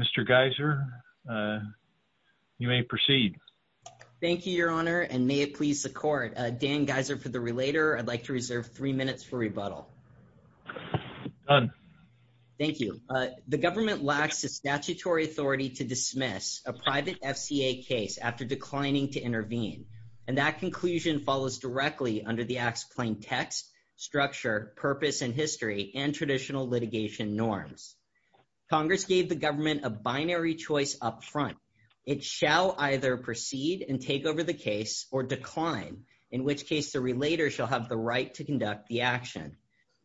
Mr. Geiser, you may proceed. Thank you, Your Honor, and may it please the Court. Dan Geiser for the Relator. I'd like to reserve three minutes for rebuttal. Done. Thank you. The government lacks the statutory authority to dismiss a private FDA case after declining to intervene, and that conclusion follows directly under the act's plain text, structure, purpose, and intent. The government has not met the statutory requirements in history and traditional litigation norms. Congress gave the government a binary choice up front. It shall either proceed and take over the case or decline, in which case the Relator shall have the right to conduct the action.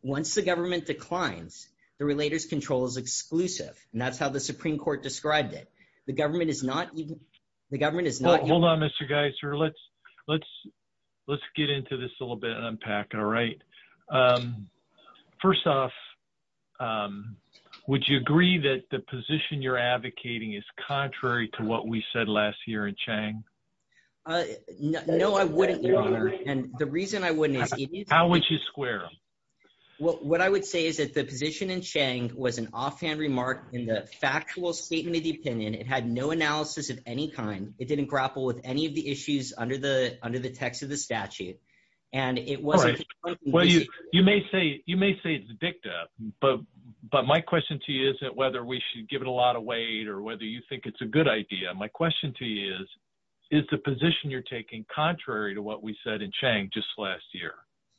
Once the government declines, the Relator's control is exclusive, and that's how the Supreme Court described it. The government is not... Hold on, Mr. Geiser. Let's get into this a little bit and unpack it, all right? First off, would you agree that the position you're advocating is contrary to what we said last year in Chang? No, I wouldn't, Your Honor, and the reason I wouldn't is... How would you square? What I would say is that the position in Chang was an offhand remark in the factual statement of the opinion. It had no analysis at any time. It didn't grapple with any of the issues under the text of the statute, and it was... Well, you may say it's a dicta, but my question to you is that whether we should give it a lot of weight or whether you think it's a good idea. My question to you is, is the position you're taking contrary to what we said in Chang just last year?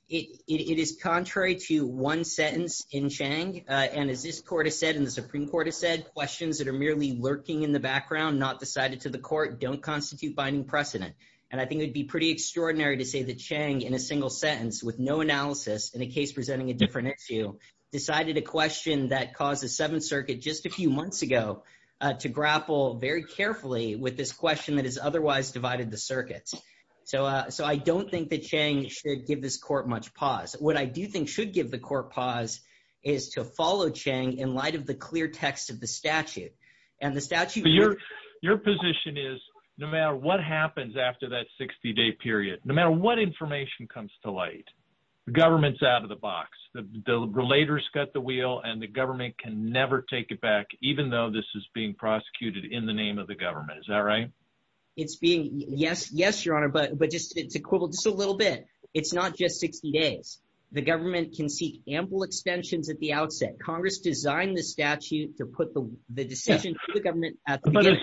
It is contrary to one sentence in Chang, and as this Court has said and the Supreme Court has said, questions that are merely lurking in the background, not decided to the Court, don't constitute binding precedent. And I think it would be pretty extraordinary to say that Chang, in a single sentence, with no analysis, in a case presenting a different issue, decided a question that caused the Seventh Circuit just a few months ago to grapple very carefully with this question that has otherwise divided the circuits. So I don't think that Chang should give this Court much pause. What I do think should give the Court pause is to follow Chang in light of the clear text of the statute. Your position is, no matter what happens after that 60-day period, no matter what information comes to light, the government's out of the box. The relators cut the wheel and the government can never take it back, even though this is being prosecuted in the name of the government. Is that right? Yes, Your Honor, but it's equivalent to just a little bit. It's not just 60 days. The government can seek ample extensions at the outset. Congress designed the statute to put the decision to the government at the beginning.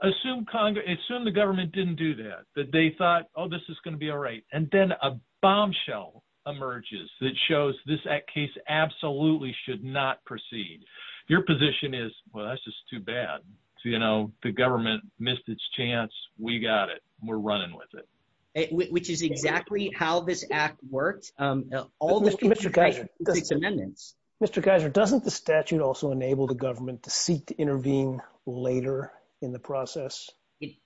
But assume the government didn't do that, that they thought, oh, this is going to be all right. And then a bombshell emerges that shows this case absolutely should not proceed. Your position is, well, that's just too bad. You know, the government missed its chance. We got it. We're running with it. Which is exactly how this act works. Mr. Geiser, doesn't the statute also enable the government to seek to intervene later in the process?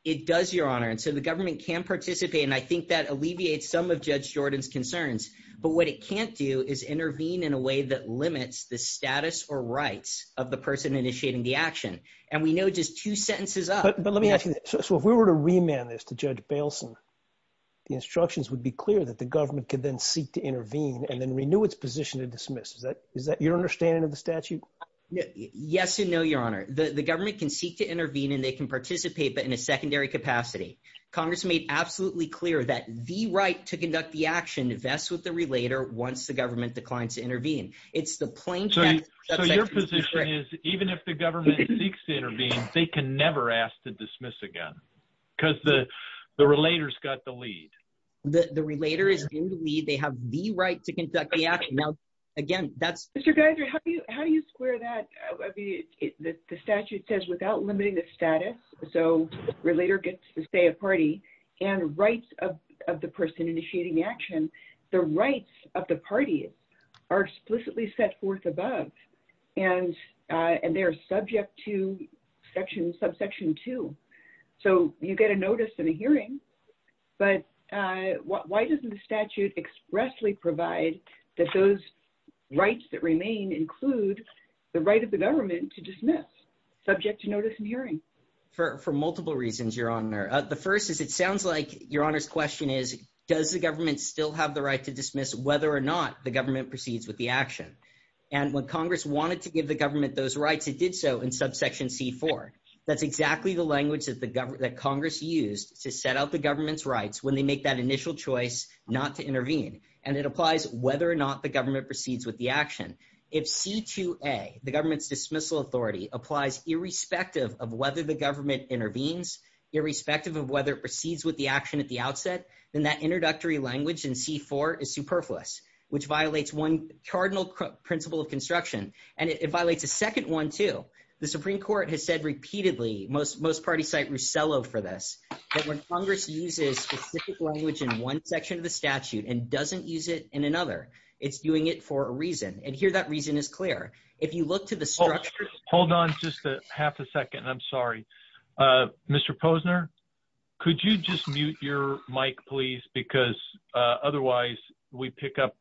It does, Your Honor. And so the government can participate. And I think that alleviates some of Judge Jordan's concerns, but what it can't do is intervene in a way that limits the status or rights of the person initiating the action. And we know just two sentences up. So if we were to remand this to Judge Baleson, the instructions would be clear that the government could then seek to intervene and then renew its position to dismiss. Is that your understanding of the statute? Yes and no, Your Honor. The government can seek to intervene and they can participate, but in a secondary capacity. Congress made absolutely clear that the right to conduct the action, if that's what the relater wants, the government declines to intervene. It's the plain text. So your position is even if the government seeks to intervene, they can never ask to dismiss again. Because the relater's got the lead. The relater is in the lead. They have the right to conduct the action. Now, again, that's. Mr. Geiser, how do you square that? The statute says without limiting the status, so the relater gets to stay a party, and rights of the person initiating the action, the rights of the party are explicitly set forth above. And they're subject to subsection two. So you get a notice and a hearing, but why doesn't the statute expressly provide that those rights that remain include the right of the government to dismiss, subject to notice and hearing? For multiple reasons, Your Honor. The first is it sounds like, Your Honor's question is, does the government still have the right to dismiss whether or not the government proceeds with the action? And when Congress wanted to give the government those rights, it did so in subsection C4. That's exactly the language that Congress used to set out the government's rights when they make that initial choice not to intervene. And it applies whether or not the government proceeds with the action. If C2A, the government's dismissal authority, applies irrespective of whether the government intervenes, irrespective of whether it proceeds with the action at the outset, then that introductory language in C4 is superfluous, which violates one cardinal principle of construction. And it violates a second one, too. The Supreme Court has said repeatedly, most parties cite Rossello for this, that when Congress uses specific language in one section of the statute and doesn't use it in another, it's doing it for a reason. And here that reason is clear. If you look to the structure of the statute. Hold on just a half a second. I'm sorry. Mr. Posner, could you just mute your mic, please? Because otherwise we pick up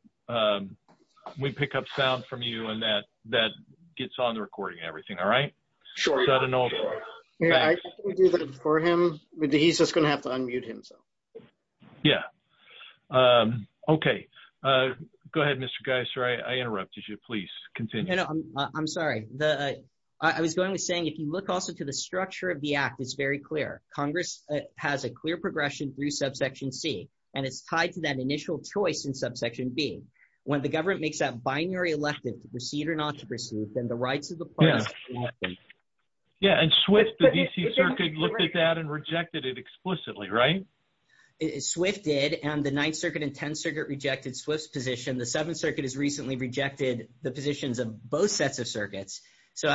sound from you and that gets on the recording and everything. All right? Sure. He's just going to have to unmute himself. Yeah. Okay. Go ahead, Mr. Geisler. I interrupted you. Please continue. I'm sorry. I was going to say, if you look also to the structure of the act, it's very clear. Congress has a clear progression through subsection C, and it's tied to that initial choice in subsection B. When the government makes that binary election to proceed or not to proceed, So I want to make sure that we get that. Yeah. Yeah. And Swift. The DC circuit looked at that and rejected it explicitly. Right? Swift did and the ninth circuit and 10 circuit rejected Swiss position. The seventh circuit has recently rejected the positions of both sets of circuits. So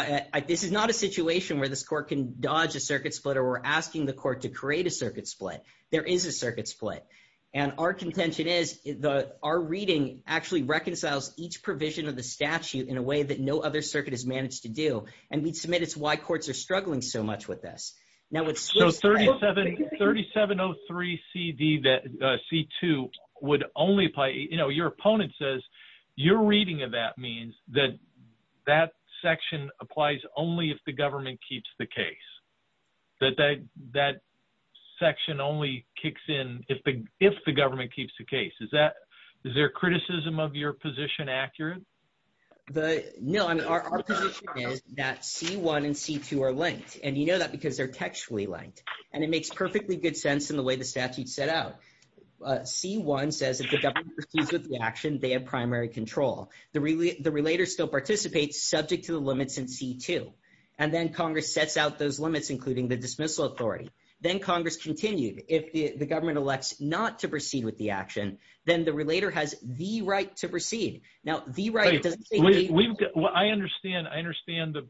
this is not a situation where this court can dodge a circuit split or we're asking the court to create a circuit split. There is a circuit split. And our contention is the, our reading actually reconciles each provision of the statute in a way that no other circuit has managed to do. And we submit it's why courts are struggling so much with this. Now. So 37, 3703 CD that C2 would only play, you know, your opponent says you're reading of that means that that section applies only if the government keeps the case. Is that, is there a criticism of your position? Accurate? The no. That C1 and C2 are linked. And you know that because they're textually linked and it makes perfectly good sense in the way the statute set out. C1 says. Action. They have primary control. The relay, the relator still participates subject to the limits and C2. And then Congress sets out those limits. And then C2 says, if the government does not proceed with the action, then the relator has the right to proceed. Now the right. I understand. I understand the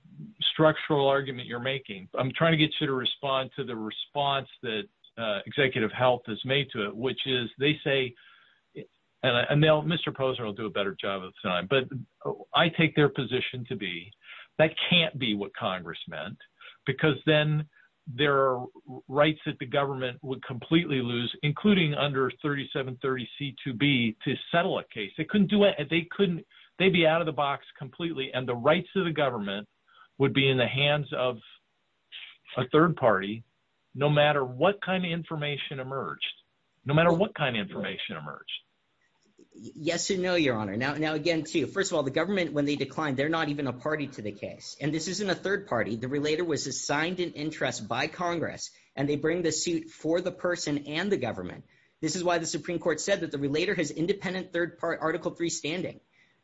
structural argument you're making. I'm trying to get you to respond to the response that. Executive health has made to it, which is they say. And I know Mr. Poser will do a better job of time, but I take their position to be. That, that can't be what Congress meant. Because then. There are rights that the government would completely lose, including under 3730 C2B to settle a case. I couldn't do it. They couldn't, they'd be out of the box completely. And the rights of the government would be in the hands of. A third party. No matter what kind of information emerged. No matter what kind of information emerged. Yes, you know, your honor. Now, now, again, to, first of all, the government, when they declined, they're not even a party to the case and this isn't a third party. The relator was assigned an interest by Congress. And they bring the suit for the person and the government. This is why the Supreme court said that the relator has independent third part article three standing.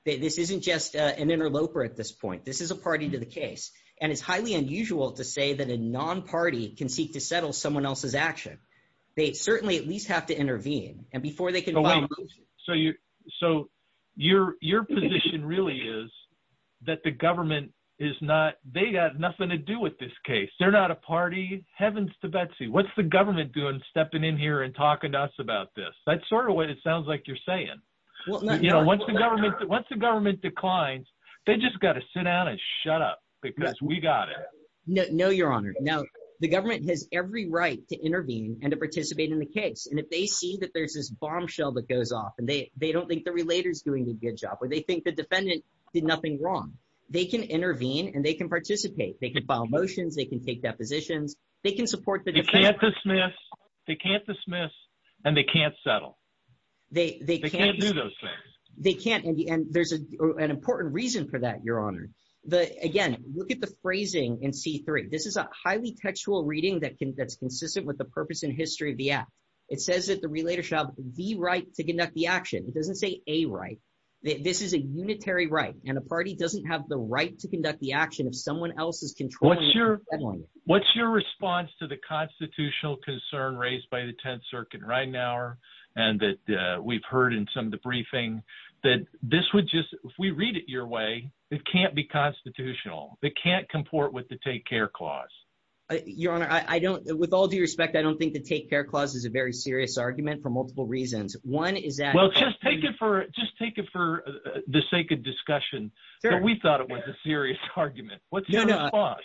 This isn't just an interloper at this point. This is a party to the case. And it's highly unusual to say that a non-party can seek to settle someone else's action. They certainly at least have to intervene. And before they can. So you, so your, your position really is that the government is not, they got nothing to do with this case. They're not a party. Heaven's to Betsy. What's the government doing stepping in here and talking to us about this. That's sort of what it sounds like. You're saying. You know, once the government, once the government declines, they just got to sit down and shut up because we got it. No, no, your honor. Now the government has every right to intervene and to participate in the case. And if they see that there's this bombshell that goes off and they, they don't think the relators doing a good job, or they think the defendant did nothing wrong. They can intervene and they can participate. They can file motions. They can take depositions. They can support. They can't dismiss and they can't settle. They can't do those things. They can't. And there's an important reason for that. Your honor. But again, look at the phrasing in C3. This is a highly textual reading that can get consistent with the purpose and history of the app. It says that the relator shall be right to conduct the action. It doesn't say a right. This is a unitary right. And the party doesn't have the right to conduct the action of someone else's control. What's your response to the constitutional concern raised by the 10th circuit right now. And that we've heard in some of the briefing that this would just, if we read it your way, it can't be constitutional. They can't comport with the take care clause. Your honor. I don't with all due respect. I don't think the take care clause is a very serious argument for multiple reasons. One is that. Just take it for the sake of discussion. We thought it was a serious argument. What's your response?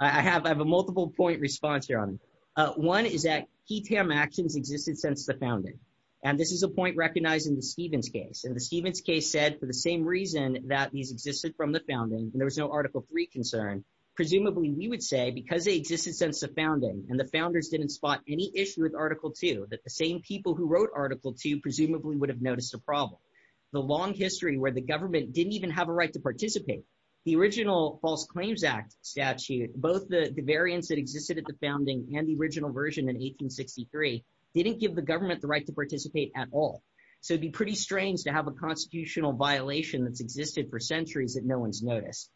I have a multiple point response. Your honor. One is that key paramount actions existed since the founding. And this is a point recognized in the Stevens case. And the Stevens case said for the same reason that these existed from the founding, there was no article three concern. And the same people who wrote article two, presumably would have noticed a problem. The long history where the government didn't even have a right to participate. The original false claims act statute, both the variance that existed at the founding and the original version in 1863. Didn't give the government the right to participate at all. So it'd be pretty strange to have a constitutional violation that's existed for centuries that no one's noticed.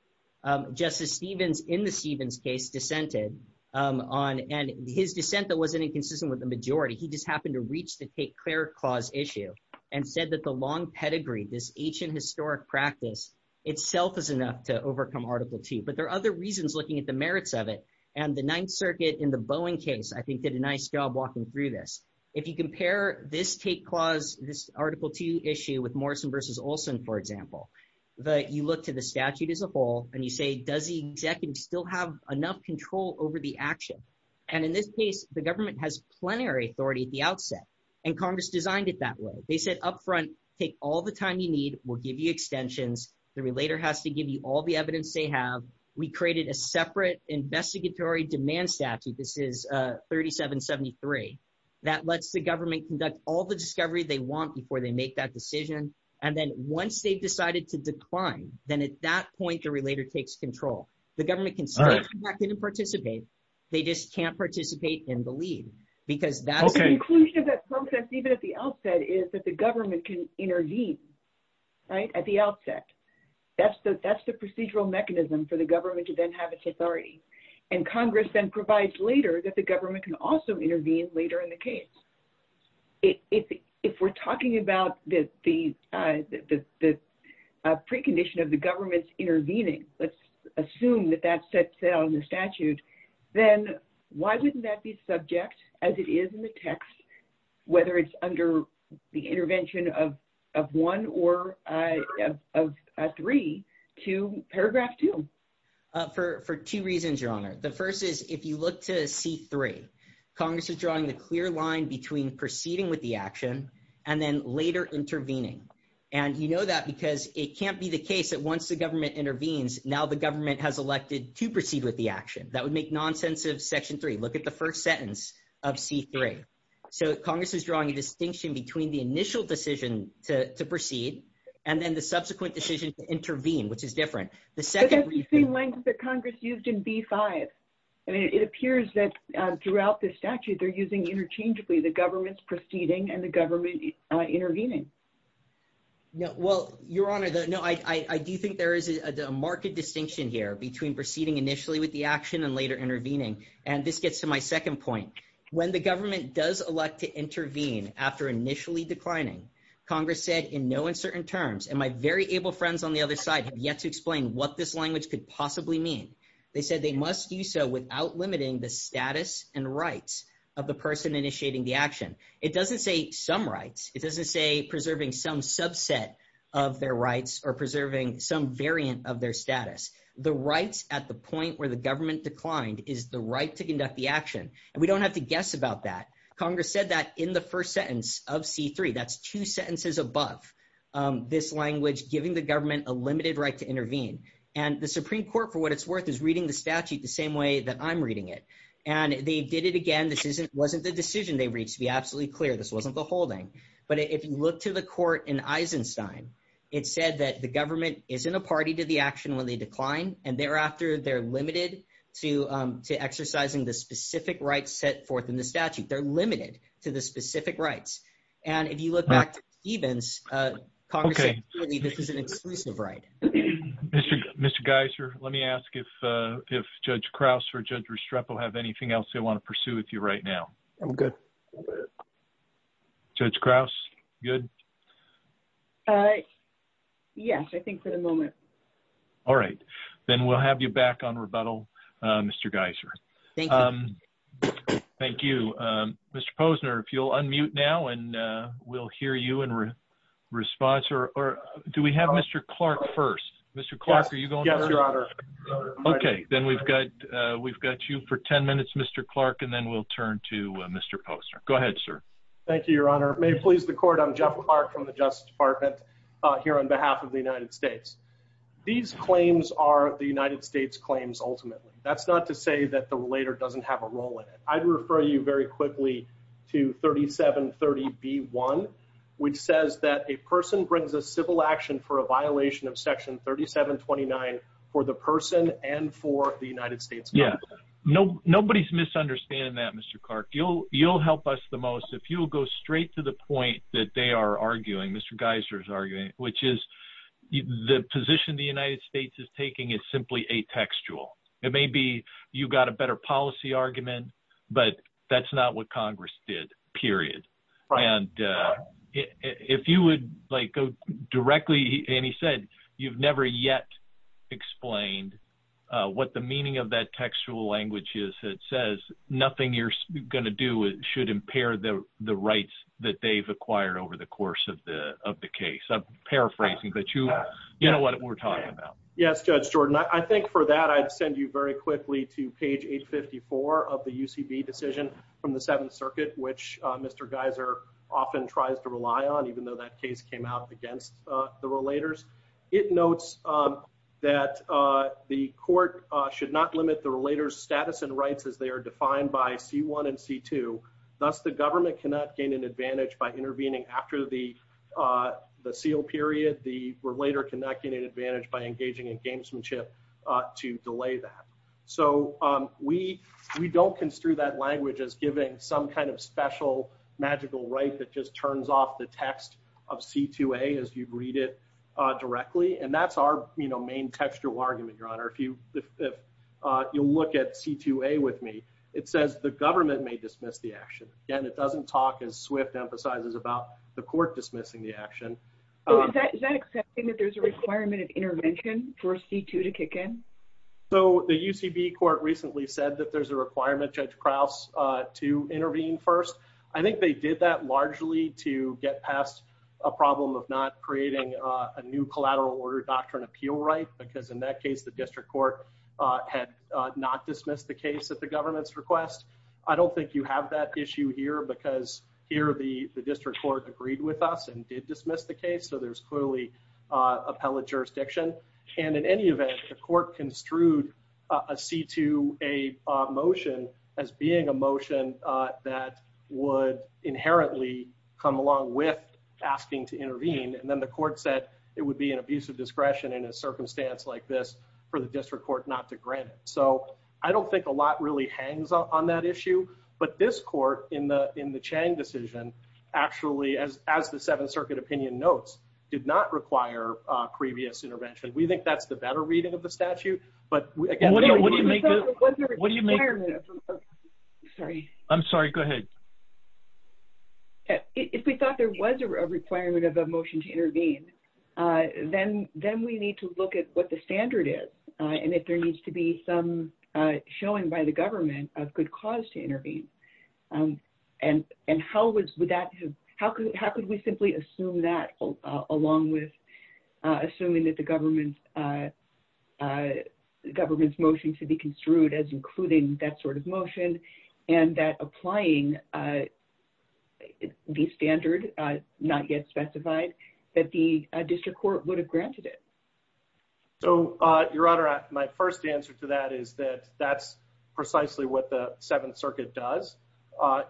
Justice Stevens. The, the, the, the, the, the, the, the. The reasons in the Stevens case dissented. On and his descent that wasn't inconsistent with the majority. He just happened to reach the cake, clear cause issue and said that the long pedigree, this ancient historic practice. Itself is enough to overcome article two, but there are other reasons looking at the merits of it. And the ninth circuit in the Boeing case, I think did a nice job walking through this. If you compare this cake clause, this article two issue with Morrison versus Olson, for example. But you look to the statute as a whole and you say, does he. Still have enough control over the action. And in this case, the government has plenary authority at the outset. And Congress designed it that way. They said upfront. Take all the time you need. We'll give you extensions. The relator has to give you all the evidence they have. We created a separate investigatory demand statute. This is a 3773. That lets the government conduct all the discovery they want before they make that decision. And then once they decided to decline, then at that point, your relator takes control. The government can participate. They just can't participate in the lead. Because that's the conclusion of that process. Even at the outset is that the government can intervene. Right at the outset. That's the, that's the procedural mechanism for the government to then have its authority. And Congress then provides later that the government can also intervene later in the case. If we're talking about this, the, the, the, the. A precondition of the government's intervening. Let's assume that that sets out in the statute. Then why wouldn't that be subject as it is in the text? Whether it's under the intervention of, of one or. A three to paragraph two. For, for two reasons, your honor. The first is, if you look to C3. Congress is drawing a clear line between proceeding with the action. And then later intervening. And you know that because it can't be the case that once the government intervenes, now the government has elected to proceed with the action. That would make nonsense of section three. Look at the first sentence of C3. So Congress is drawing a distinction between the initial decision to proceed with the action and then the subsequent decision to intervene, which is different. The second. The Congress used in B5. And it appears that throughout the statute, they're using interchangeably the government's proceeding and the government. Intervening. No, well, your honor. No, I, I, I do think there is a, a market distinction here between proceeding initially with the action and later intervening. And this gets to my second point. When the government does elect to intervene after initially declining Congress said in no uncertain terms. And my very able friends on the other side have yet to explain what this language could possibly mean. They said they must do so without limiting the status and rights of the person initiating the action. It doesn't say some rights. It doesn't say preserving some subset of their rights or preserving some variant of their status, the rights at the point where the government declined is the right to conduct the action. And we don't have to guess about that. Congress said that in the first sentence of C3, that's two sentences above this language, giving the government a limited right to intervene and the Supreme court for what it's worth is reading the statute the same way that I'm reading it. And they did it again. This isn't, wasn't the decision. They reached to be absolutely clear. This wasn't the whole thing, but if you look to the court in Eisenstein, it said that the government is in a party to the action when they decline. And thereafter they're limited to, to exercising the specific rights set forth in the statute. They're limited to the specific rights. And if you look back evens, this is an exclusive right. Mr. Mr. Geiser, let me ask if, if judge Krauss or judge Restrepo, have anything else they want to pursue with you right now? I'm good. Judge Krauss. Good. Yes, I think for the moment. All right. Then we'll have you back on rebuttal. Mr. Geiser. Thank you. Mr. Posner, if you'll unmute now and we'll hear you in response or, or do we have Mr. Clark first, Mr. Clark, are you going? Okay. Then we've got, we've got you for 10 minutes, Mr. Clark, and then we'll turn to Mr. Posner. Go ahead, sir. Thank you, your honor may please the court. I'm Jeff Clark from the justice department here on behalf of the United States. These claims are the United States claims. Ultimately. It's a violation of section 3729. That's not to say that the later doesn't have a role in it. I'd refer you very quickly. To 3730 B one. Which says that a person brings a civil action for a violation of section 3729 for the person and for the United States. Yeah. No, nobody's misunderstanding that Mr. Clark. You'll you'll help us the most. Okay. So what I'm trying to say is if you will go straight to the point that they are arguing, Mr. Geisler is arguing, which is. The position the United States is taking is simply a textual. It may be, you've got a better policy argument. But that's not what Congress did. Period. If you would like go directly. And he said, you've never yet. Explained what the meaning of that textual language is. It says nothing you're going to do. It should impair the, the rights that they've acquired over the course of the, of the case. I'm paraphrasing, but you, you know what we're talking about? Yes. Judge Jordan. I think for that, I'd send you very quickly to page eight 54 of the UCB decision. From the seventh circuit, which Mr. Geisler often tries to rely on, even though that case came out against the relators. It notes that the court should not limit the relators status and rights as they are defined by C1 and C2. That's the government can not gain an advantage by intervening after the, the seal period, the relator can not get an advantage by engaging in gamesmanship to delay that. So we, we don't construe that language as giving some kind of special magical right that just turns off the text of C2A as you read it directly. And that's our main textual argument, your honor. If you, if you look at C2A with me, it says the government may dismiss the action. Again, it doesn't talk as swift emphasizes about the court dismissing the action. Is that accepting that there's a requirement of intervention for C2 to kick in? So the UCB court recently said that there's a requirement to intervene first. I think they did that largely to get past a problem of not creating a new collateral order doctrine appeal, right? Because in that case, the district court had not dismissed the case that the government's request. I don't think you have that issue here because here the district court agreed with us and did dismiss the case. So there's clearly a pellet jurisdiction and in any event, I think that the court construed a C2A motion as being a motion that would inherently come along with asking to intervene. And then the court said it would be an abuse of discretion in a circumstance like this for the district court not to grant it. So I don't think a lot really hangs on that issue, but this court in the, in the Chang decision, actually, as, as the seventh circuit opinion notes did not require a previous intervention. We think that's the better reading of the statute, but what do you make? Sorry. I'm sorry. Go ahead. If we thought there was a requirement of a motion to intervene, then, then we need to look at what the standard is and if there needs to be some showing by the government of good cause to intervene. And, and how would that, how could, how could we simply assume that along with assuming that the government government's motion to be construed as including that sort of motion and that applying the standard not yet specified that the district court would have granted it. So your honor, my first answer to that is that that's precisely what the seventh circuit does.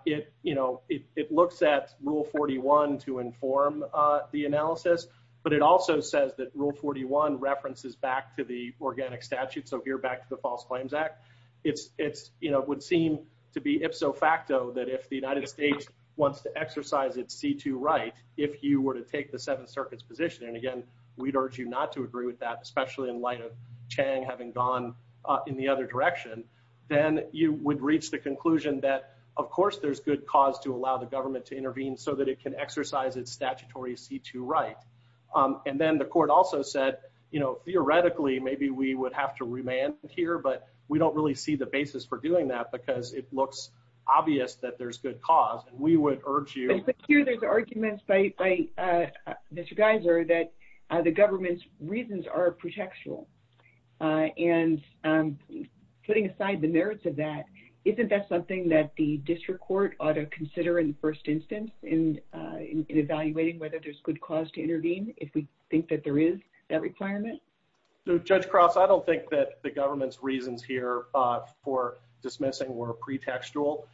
It, you know, it looks at rule 41 to inform the analysis, but it also says that rule 41 references back to the organic statute. So if you're back to the false claims act, it's, it's, you know, it would seem to be if so facto that if the United States wants to exercise its C2 right, if you were to take the seventh circuit's position. And again, we'd urge you not to agree with that, especially in light of Chang having gone in the other direction, then you would reach the conclusion that of course there's good cause to allow the government to intervene so that it can exercise its statutory C2 right. And then the court also said, you know, theoretically, maybe we would have to remain here, but we don't really see the basis for doing that because it looks obvious that there's good cause. And we would urge you. There's arguments by Mr. Geiser that the government's reasons are protectional and putting aside the merits of that. Isn't that something that the district court ought to consider in first instance in evaluating whether there's good cause to intervene. If we think that there is that requirement. No judge cross. I don't think that the government's reasons here for dismissing were pretextual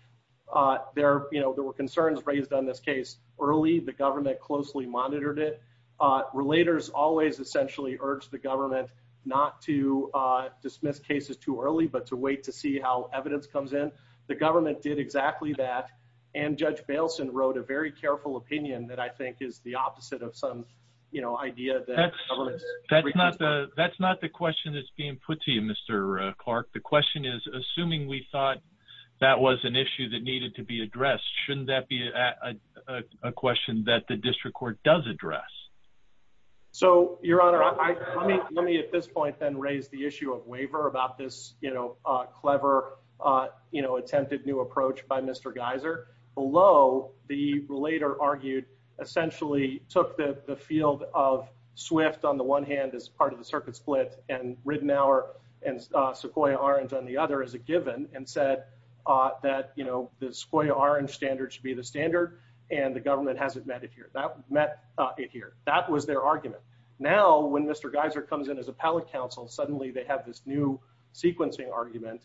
there, you know, there were concerns raised on this case early. The government closely monitored it. Relators always essentially urged the government not to dismiss cases too early, but to wait, to see how evidence comes in. The government did exactly that. And judge Baleson wrote a very careful opinion that I think is the opposite of some, you know, idea that. That's not the question that's being put to you, Mr. Clark. The question is assuming we thought that was an issue that needed to be addressed. Shouldn't that be a question that the district court does address. So your honor, let me at this point then raise the issue of waiver about this, you know, a clever, you know, attempted new approach by Mr. Geiser below the later argued essentially took the, the field of swift on the one hand, as part of the circuit split and written hour and Sequoia orange on the other as a given and said that, you know, the Sequoia orange standard should be the standard and the government hasn't met it here. That met it here. That was their argument. Now, when Mr. Geiser comes in as a pallet council, suddenly they have this new sequencing argument.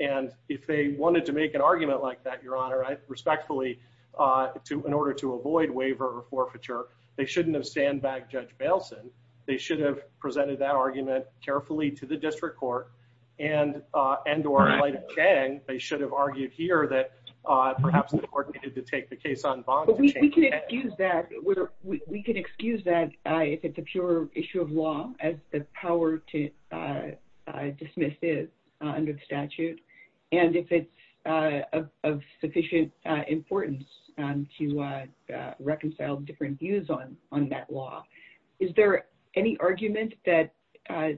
And if they wanted to make an argument like that, your honor, I respectfully to, in order to avoid waiver forfeiture, they shouldn't have stand back. Judge Baleson. They should have presented that argument carefully to the district court and, and, or like, they should have argued here that perhaps the court needed to take the case on bond. We can excuse that. If it's a pure issue of law as the power to dismiss it under statute. And if it's a sufficient importance to reconcile different views on, on that law, is there any argument that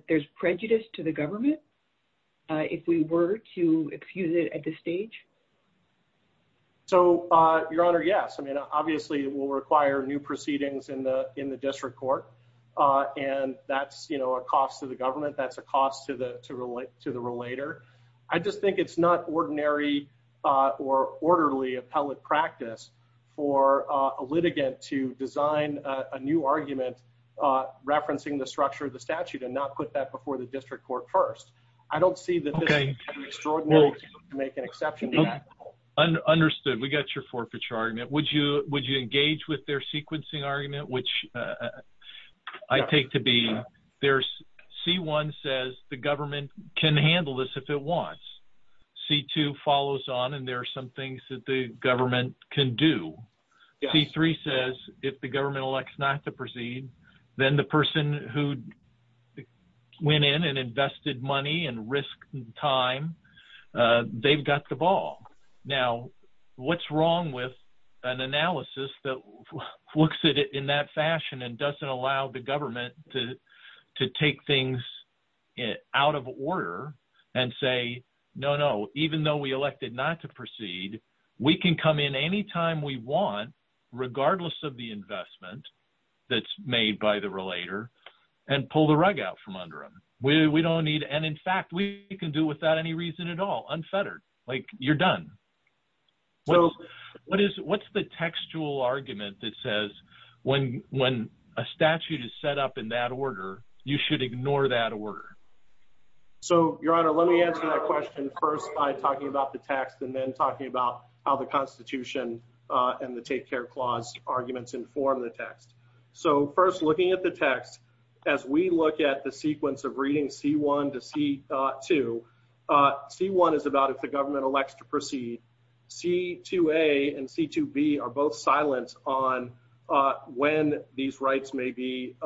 there's prejudice to the government? If we were to excuse it at this stage. So your honor. Yes. I mean, I don't think there's any prejudice in the, in the district court. And that's, you know, a cost to the government. That's a cost to the, to relate to the relator. I just think it's not ordinary or orderly appellate practice for a litigant to design a new argument. Referencing the structure of the statute and not put that before the district court first. I don't see that. Okay. Make an exception. Understood. We got your forfeiture argument. Would you, would you engage with their sequencing argument, which I take to be, there's C1 says the government can handle this if it wants. C2 follows on and there are some things that the government can do. C3 says if the government elects not to proceed, then the person who went in and invested money and risk and time they've got the ball. Now what's wrong with an analysis that looks at it in that fashion and doesn't allow the government to, to take things out of order and say, no, no, even though we elected not to proceed, we can come in anytime we want, regardless of the investment that's made by the relator and pull the rug out from under them. We don't need. And in fact, we can do without any reason at all unfettered, like you're done. Well, what is, what's the textual argument that says when, when a statute is set up in that order, you should ignore that order. So your honor, let me answer that question. First I talked about the tax and then talking about how the constitution and the take care clause arguments inform the text. So first looking at the text, as we look at the sequence of reading C1 to C2, C1 is about if the government elects to proceed, C2A and C2B are both silent on when these rights may be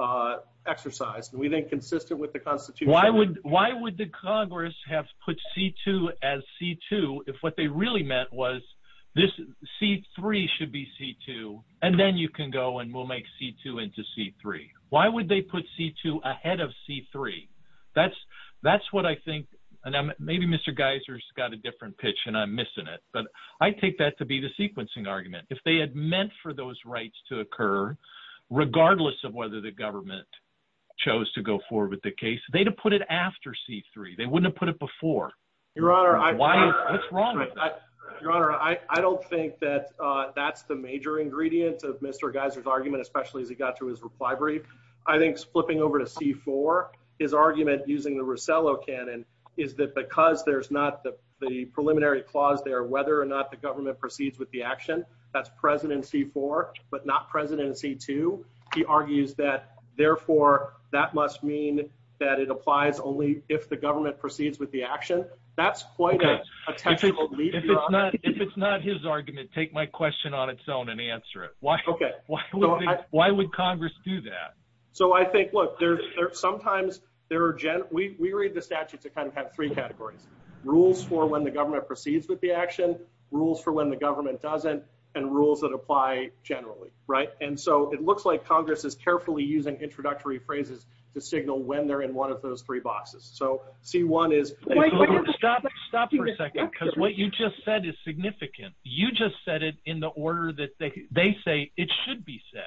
exercised. And we think consistent with the constitution. Why would the Congress have put C2 as C2 if what they really meant was this C3 should be C2 and then you can go and we'll make C2 into C3. Why would they put C2 ahead of C3? That's, that's what I think. And then maybe Mr. Geiser's got a different pitch and I'm missing it, but I take that to be the sequencing argument. If they had meant for those rights to occur, regardless of whether the government chose to go forward with the case, they to put it after C3, they wouldn't have put it before. Your honor, I don't think that, uh, that's the major ingredients of Mr. Geiser's argument, especially as he got through his reply brief. I think flipping over to C4, his argument using the Rosello canon is that because there's not the, the preliminary clause there, whether or not the government proceeds with the action that's present in C4, but not present in C2, he argues that therefore, that must mean that it applies only if the government proceeds with the action. That's quite. If it's not his argument, take my question on its own and answer it. Why would Congress do that? So I think, look, there's sometimes there are, we read the statute to kind of have three categories rules for when the government proceeds with the action rules for when the government doesn't and rules that apply generally. Right. And so it looks like Congress is carefully using introductory phrases to signal when they're in one of those three boxes. So C1 is. Stop for a second, because what you just said is significant. You just said it in the order that they say it should be said.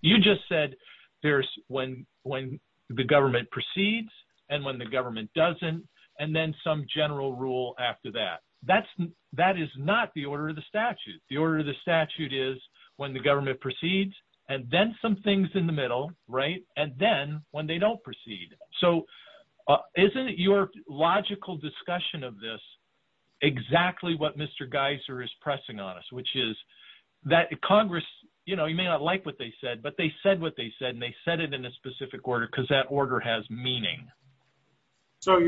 You just said there's when, when the government proceeds and when the government doesn't, and then some general rule after that, that's, that is not the order of the statute. The order of the statute is when the government proceeds and then some things in the middle, right. And then when they don't proceed. So isn't your logical discussion of this exactly what Mr. Geiser is pressing on us, which is that Congress, you know, you may not like what they said, but they said what they said, and they said it in a specific order because that order has meaning. So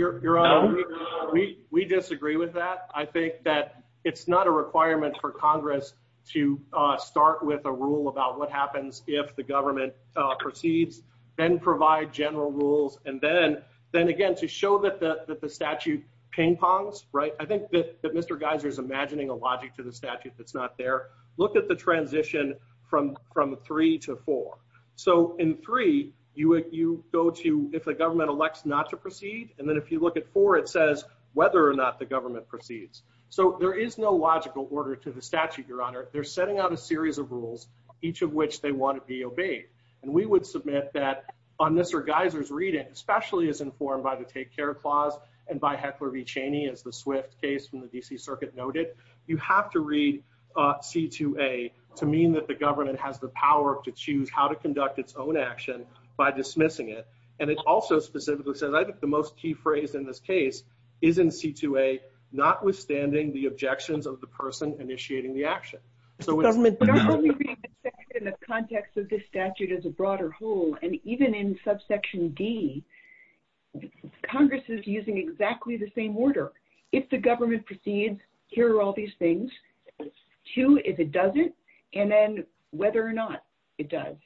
we disagree with that. I think that it's not a requirement for Congress to start with a rule about what happens if the government proceeds and provide general rules. And then, then again, to show that the statute ping pongs, right. I think that Mr. Geiser is imagining a logic to the statute. That's not there. Look at the transition from, from three to four. So in three, you, you go to, if the government elects not to proceed. And then if you look at four, it says whether or not the government proceeds. So there is no logical order to the statute. Your honor, they're setting out a series of rules, each of which they want to be obeyed. And we would submit that on Mr. Geiser's reading, especially as informed by the take care clause and by Heckler v. Cheney as the swift case from the DC circuit noted, you have to read a C2A to mean that the government has the power to choose how to conduct its own action by dismissing it. And it's also specifically said, I think the most key phrase in this case is in C2A, notwithstanding the objections of the person initiating the action. In the context of this statute as a broader whole, and even in subsection D, Congress is using exactly the same order. If the government proceeds, here are all these things. Two, if it doesn't, and then whether or not it does.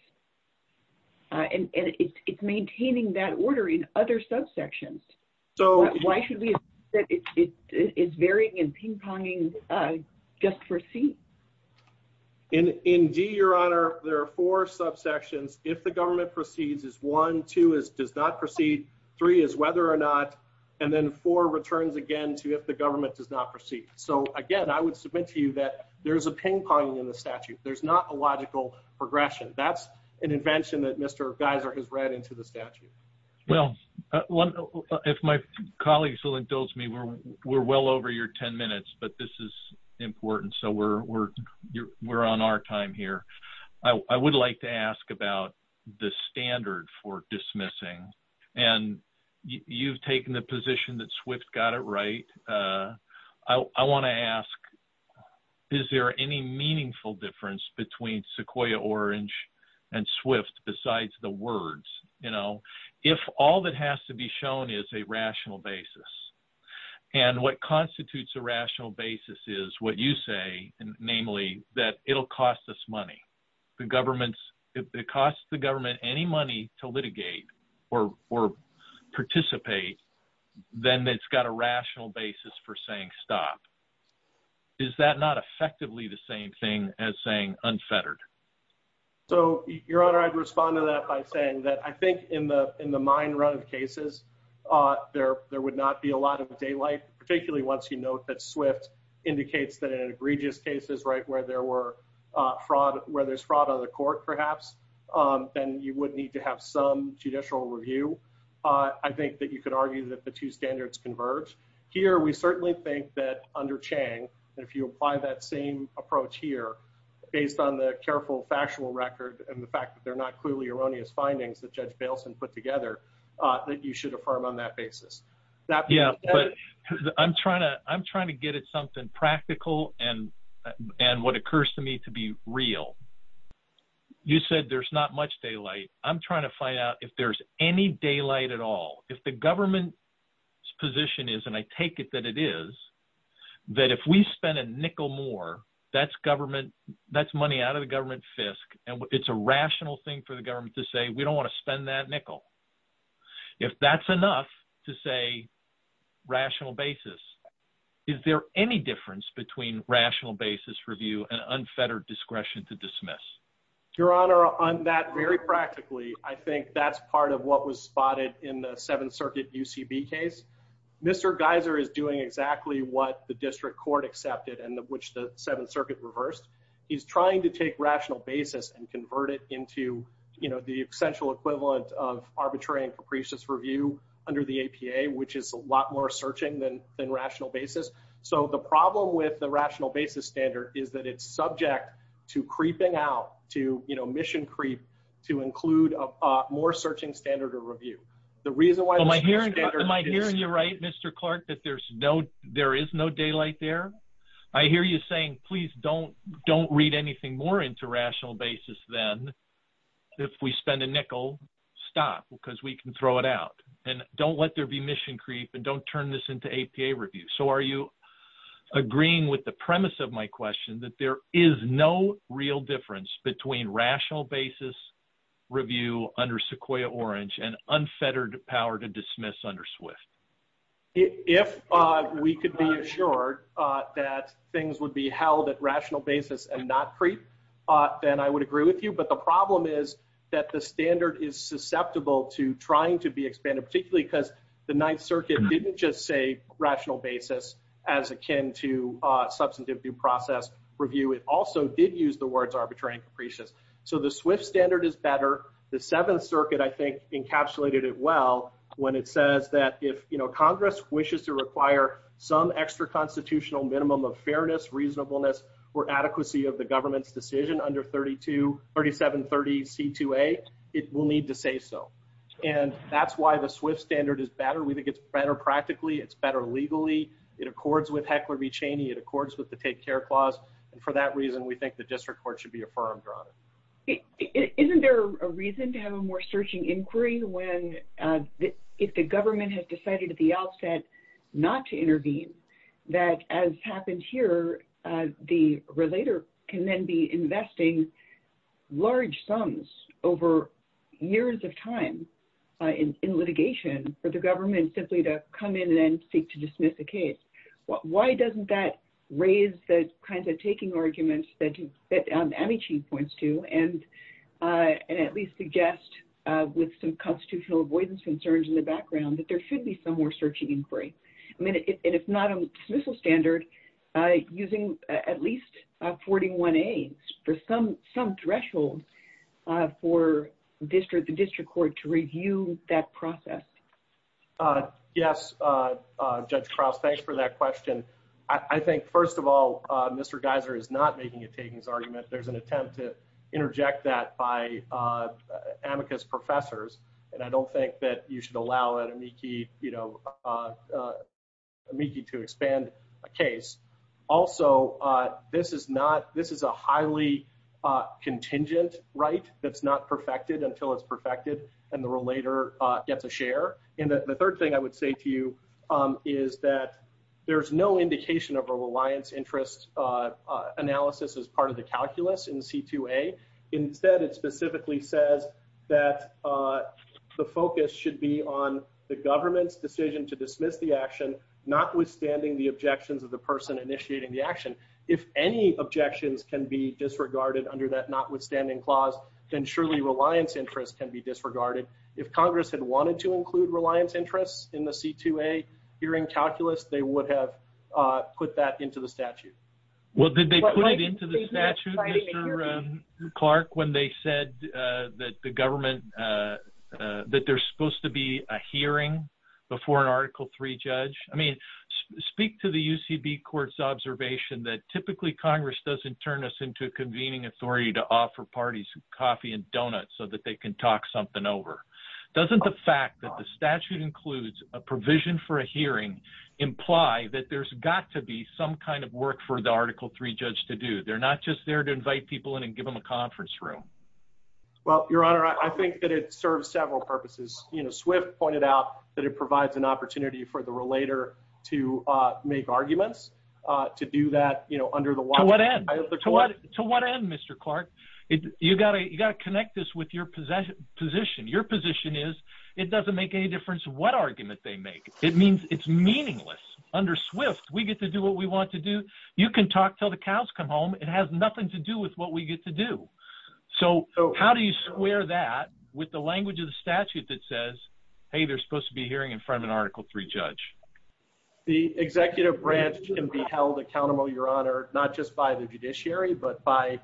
And it's maintaining that order in other subsections. So why should we, it's varying and ping-ponging just for C. In D your honor, there are four subsections. If the government proceeds is one, two is does not proceed, three is whether or not, and then four returns again to if the government does not proceed. So again, I would submit to you that there's a ping-pong in the statute. There's not a logical progression. That's an invention that Mr. Geiser has read into the statute. Well, if my colleagues will indulge me, we're well over your 10 minutes, but this is important. So we're on our time here. I would like to ask about the standard for dismissing. And you've taken the position that Swift got it right. I want to ask, is there any meaningful difference between Sequoia Orange and Swift besides the words? If all that has to be shown is a rational basis and what constitutes a money, namely that it'll cost us money. The government's, it costs the government any money to litigate or, or participate. Then it's got a rational basis for saying stop. Is that not effectively the same thing as saying unfettered? So your honor, I'd respond to that by saying that I think in the, in the mine run cases, there, there would not be a lot of daylight, particularly once you note that Swift indicates that an egregious case is right where there were fraud, where there's fraud on the court, perhaps. And you would need to have some judicial review. I think that you could argue that the two standards converge here. We certainly think that under Chang, if you apply that same approach here based on the careful, fashionable record and the fact that they're not clearly erroneous findings that judge Baleson put together, that you should affirm on that basis. Yeah, but I'm trying to, I'm trying to get at something practical and what occurs to me to be real. You said there's not much daylight. I'm trying to find out if there's any daylight at all. If the government's position is, and I take it that it is, that if we spend a nickel more, that's government, that's money out of the government fisc. And it's a rational thing for the government to say, we don't want to spend that nickel. If that's enough to say rational basis, is there any difference between rational basis review and unfettered discretion to dismiss? Your Honor, on that very practically, I think that's part of what was spotted in the seventh circuit UCB case. Mr. Geiser is doing exactly what the district court accepted and the, which the seventh circuit reversed. He's trying to take rational basis and convert it into, you know, the essential equivalent of arbitrary and capricious review under the APA, which is a lot more searching than rational basis. So the problem with the rational basis standard is that it's subject to creeping out to, you know, mission creep, to include a more searching standard of review. The reason why. Am I hearing you right, Mr. Clark, that there's no, there is no daylight there. I hear you saying, please don't, don't read anything more into rational basis. Then if we spend a nickel stock, because we can throw it out and don't let there be mission creep and don't turn this into APA review. So are you agreeing with the premise of my question that there is no real difference between rational basis review under Sequoia orange and unfettered power to dismiss under Swift? If we could be assured that things would be held at rational basis and not creep, then I would agree with you. But the problem is that the standard is susceptible to trying to be expanded, particularly because the ninth circuit didn't just say rational basis as akin to a substantive due process review. It also did use the words arbitrary and capricious. So the Swift standard is better. The seventh circuit, I think, encapsulated it well, when it says that if, you know, Congress wishes to require some extra constitutional minimum of fairness, reasonableness, or adequacy of the government's decision under 32, 37, 30 C2A, it will need to say so. And that's why the Swift standard is better. We think it's better. Practically it's better legally. It accords with heckler be Cheney. It accords with the take care clause. And for that reason, we think the district court should be affirmed on it. Isn't there a reason to have a more searching inquiry when the, if the government has decided at the outset not to intervene that as a matter of fact, And if that happens here, the relator can then be investing large sums over years of time in, in litigation for the government simply to come in and seek to dismiss the case. Why doesn't that raise the kinds of taking arguments that you, that any chief points to, and, and at least suggest with some constitutional avoidance concerns in the background, that there should be some more searching inquiry. I mean, it's not a dismissal standard using at least a 41 A for some, some threshold for district, the district court to review that process. Yes. Judge Krause, thanks for that question. I think first of all, Mr. Geiser is not making a takings argument. There's an attempt to interject that by amicus professors. And I don't think that you should allow that amici, you know, amici to expand a case. Also, this is not, this is a highly contingent right. That's not perfected until it's perfected and the relator gets a share. And the third thing I would say to you is that there's no indication of a reliance interest analysis as part of the calculus in C2A. Instead, it specifically says that the focus should be on the government's decision to dismiss the action, notwithstanding the objections of the person initiating the action. If any objections can be disregarded under that notwithstanding clause, then surely reliance interest can be disregarded. If Congress had wanted to include reliance interests in the C2A hearing calculus, they would have put that into the statute. Well, did they put it into the statute? Mr. Clark, when they said that the government, that there's supposed to be a hearing before an article three judge, I mean, speak to the UCB court's observation that typically Congress doesn't turn us into a convening authority to offer parties coffee and donuts so that they can talk something over. Doesn't the fact that the statute includes a provision for a hearing imply that there's got to be some kind of work for the article three judge to do? They're not just there to invite people in and give them a conference room. Well, your honor, I think that it serves several purposes. You know, Swift pointed out that it provides an opportunity for the relater to make arguments to do that, you know, under the law. To what end, Mr. Clark, you gotta, you gotta connect this with your position. Your position is it doesn't make any difference what argument they make. It means it's meaningless under Swift. We get to do what we want to do. You can talk till the cows come home. It has nothing to do with what we get to do. So how do you square that with the language of the statute that says, Hey, there's supposed to be a hearing in front of an article three judge. The executive branch can be held accountable, your honor, not just by the judiciary, but by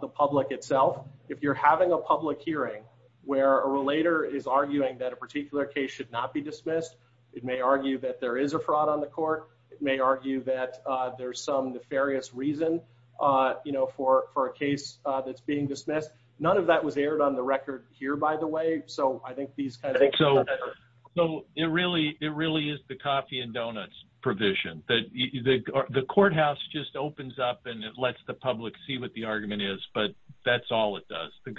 the public itself. If you're having a public hearing where a relater is arguing that a particular case should not be dismissed, it may argue that there is a fraud on the court. It may argue that there's some nefarious reason, you know, for, for a case that's being dismissed. None of that was aired on the record here, by the way. So I think these kinds of things. So it really, it really is the coffee and donuts provision. The courthouse just opens up and it lets the public see what the argument is, but that's all it does. The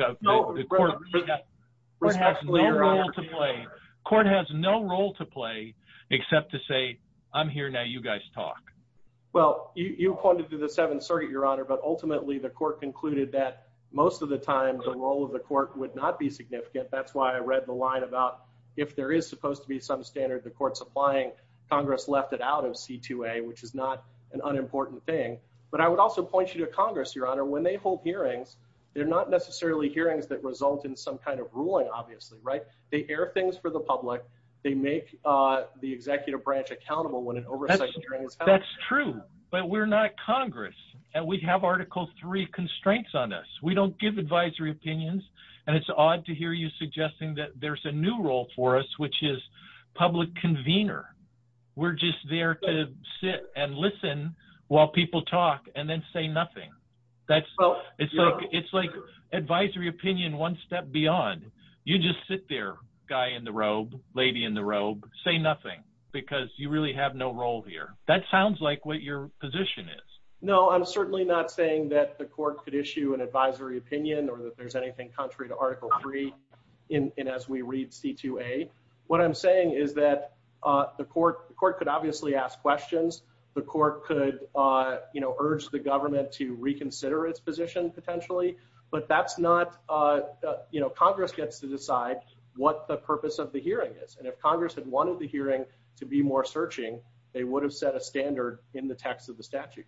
court has no role to play except to say I'm here. Now you guys talk. Well, you pointed to the seventh circuit, your honor, but ultimately the court concluded that most of the times the role of the court would not be significant. That's why I read the line about if there is supposed to be some standard, the court's applying Congress left it out of C2A, which is not an unimportant thing. But I would also point you to Congress, your honor, when they hold hearings, they're not necessarily hearings that result in some kind of ruling. Obviously, right. They air things for the public. They make the executive branch accountable when an oversight hearing. That's true, but we're not Congress. And we'd have article three constraints on us. We don't give advisory opinions. And it's odd to hear you suggesting that there's a new role for us, which is public convener. We're just there to sit and listen while people talk and then say nothing. It's like advisory opinion, one step beyond. You just sit there, guy in the robe, lady in the robe, say nothing because you really have no role here. That sounds like what your position is. No, I'm certainly not saying that the court could issue an advisory opinion or that there's anything contrary to article three. And as we read C2A, what I'm saying is that the court, the court could obviously ask questions. The court could, you know, urge the government to reconsider its position potentially, but that's not, you know, Congress gets to decide what the purpose of the hearing is. And if Congress had wanted the hearing to be more searching, they would have set a standard in the text of the statute.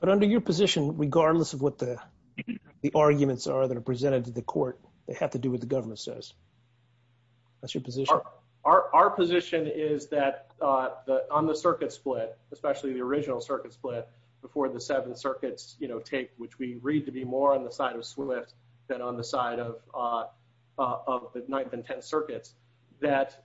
But under your position, regardless of what the arguments are that are presented to the court, they have to do with the government says that's your position. Our position is that on the circuit split, especially the original circuit split before the seven circuits, you know, take, which we read to be more on the side of swift than on the side of, of the ninth and 10 circuits that,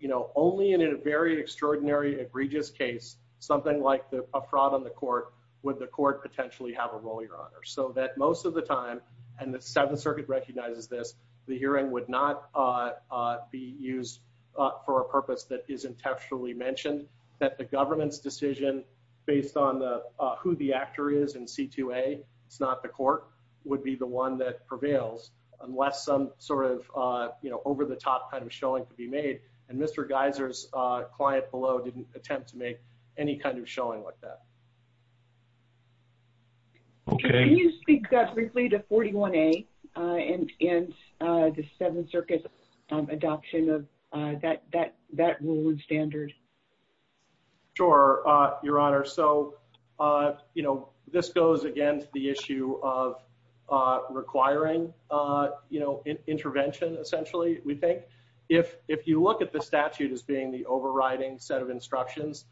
you know, only in a very extraordinary egregious case, something like a fraud on the court with the court potentially have a role your honor. So that most of the time, and the seventh circuit recognizes this, the hearing would not be used for a purpose that is intentionally mentioned that the government's decision based on the, who the actor is in CQA, it's not the court would be the one that prevails unless some sort of, you know, over the top kind of showing to be made. And Mr. Geyser's client below didn't attempt to make any kind of showing like that. Okay. Can you speak briefly to 41a and, and the seven circuits adoption of that, that, that rule and standard. Sure. Your honor. So, you know, this goes against the issue of requiring, you know, intervention essentially we think if, if you look at the statute as being the overriding set of instructions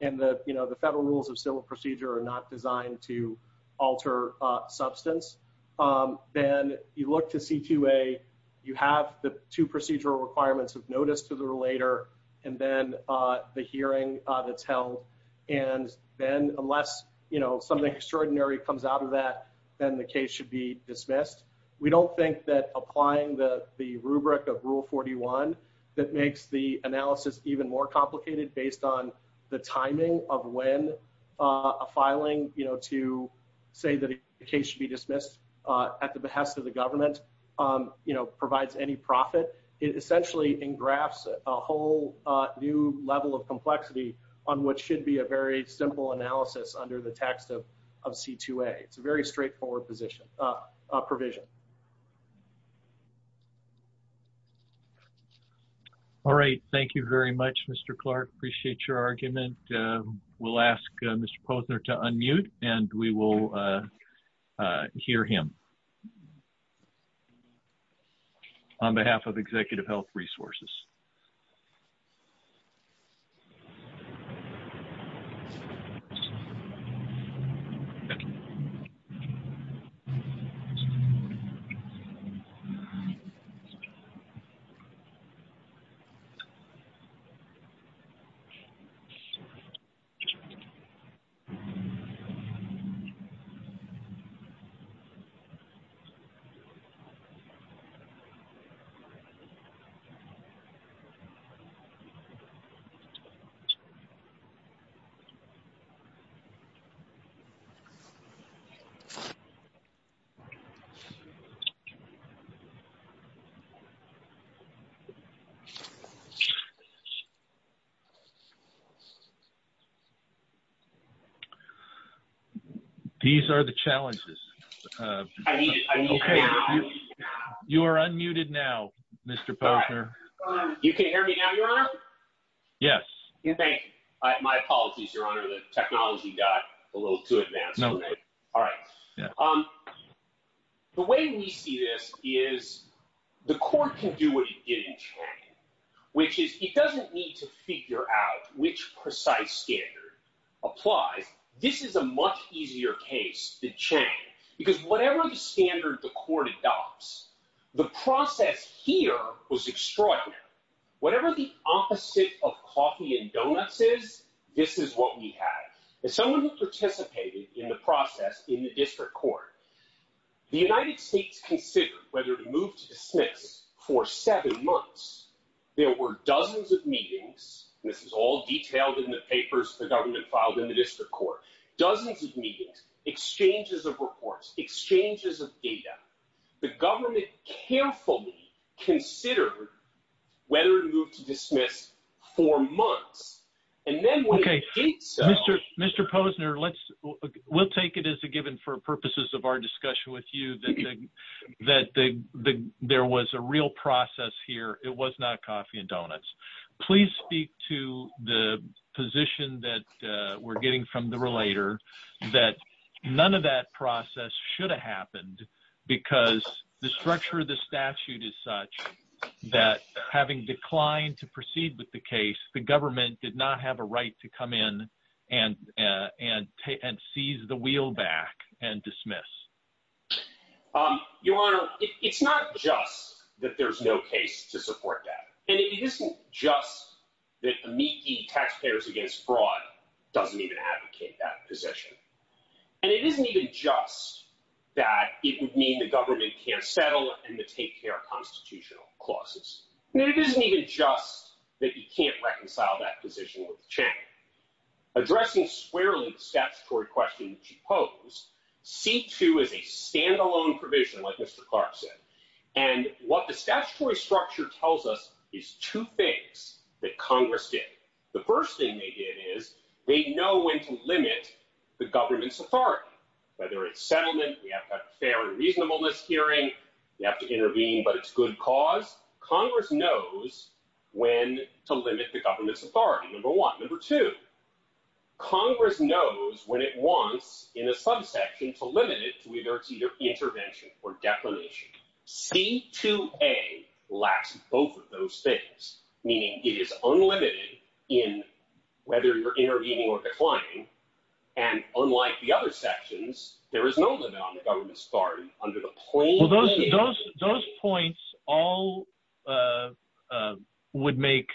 and the, you know, the federal rules of civil procedure are not designed to alter substance. Then you look to CQA, you have the two procedural requirements of notice to the relator and then the hearing to tell. And then unless, you know, something extraordinary comes out of that, then the case should be dismissed. We don't think that applying the, the rubric of rule 41 that makes the analysis even more complicated based on the timing of when a filing, you know, to say that it should be dismissed at the behest of the government, you know, provides any profit is essentially in graphs, a whole new level of complexity on what should be a very simple analysis under the text of, of CQA. It's a very straightforward position provision. All right. Thank you very much, Mr. Clark. Appreciate your argument. We'll ask Mr. Posner to unmute and we will hear him on behalf of executive health resources. Okay. These are the challenges. You are unmuted now, Mr. Posner. You can't hear me now, your honor? Yes. My apologies, your honor. The technology died a little too advanced. All right. The way we see this is the court can do what you can't, which is, it doesn't need to figure out, which precise standard apply. This is a much easier case to change because whatever the standard the court adopts, the process here was extraordinary. Whatever the opposite of coffee and donuts is, this is what we have. If someone who participated in the process in the district court, the United States considered whether to move to dismiss for seven months. There were dozens of meetings. This is all detailed in the papers the government filed in the district court, dozens of meetings, exchanges of reports, exchanges of data. The government carefully considered whether to move to dismiss for months. Okay. Mr. Mr. Posner, let's, we'll take it as a given for purposes of our discussion with you, that there was a real process here. It was not coffee and donuts. Please speak to the position that we're getting from the relator that none of that process should have happened because the structure of the statute is such that having declined to proceed with the case, the government did not have a right to come in and, and, and seize the wheel back and dismiss. Your Honor, it's not just that there's no case to support that. And it isn't just that the meat, the taxpayers against fraud doesn't even advocate that position. And it isn't even just that it would mean the government can't settle and the take care of constitutional clauses. It isn't even just that you can't reconcile that position with Chang. Addressing squarely, the statutory question that you pose C2 is a standalone provision, like Mr. Clark said, and what the statutory structure tells us is two things that Congress did. The first thing they did is they know when to limit the government's authority, whether it's settlement, we have to stay on a reasonable list hearing you have to intervene, but it's good cause Congress knows when to limit the government's authority. Number one, number two, Congress knows when it wants in the subsection to limit it, whether it's either intervention or defamation, C2A lacks both of those things, meaning it is unlimited in whether you're intervening or declining. And unlike the other sections, there is no government starting under the plane. Those points all would make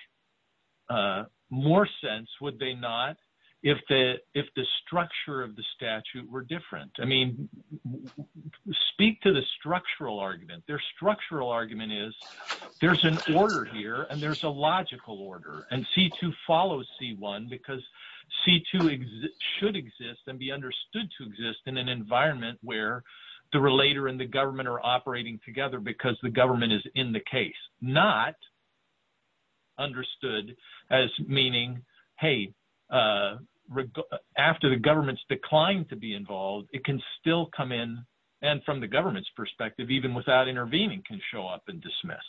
more sense. Would they not? If the, if the structure of the statute were different, I mean, speak to the structural argument, their structural argument is there's an order here and there's a logical order. And C2 follows C1 because C2 should exist and be understood to exist in an environment where the relator and the government are operating together because the government is in the case, not understood as meaning, Hey, after the government's declined to be involved, it can still come in. And from the government's perspective, even without intervening can show up and dismiss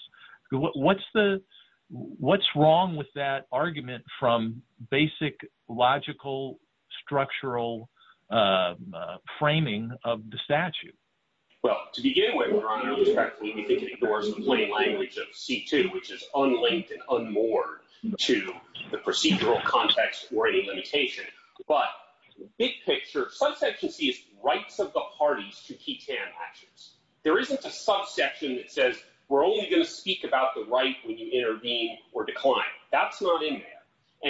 what's the what's wrong with that argument from basic logical, structural framing of the statute. Well, to begin with, language of C2, which is unlinked and unmoored to the procedural context or any limitation, but big picture, right for the parties to keep their actions. There isn't a section that says, we're only going to speak about the right when you intervene or decline. That's not in there.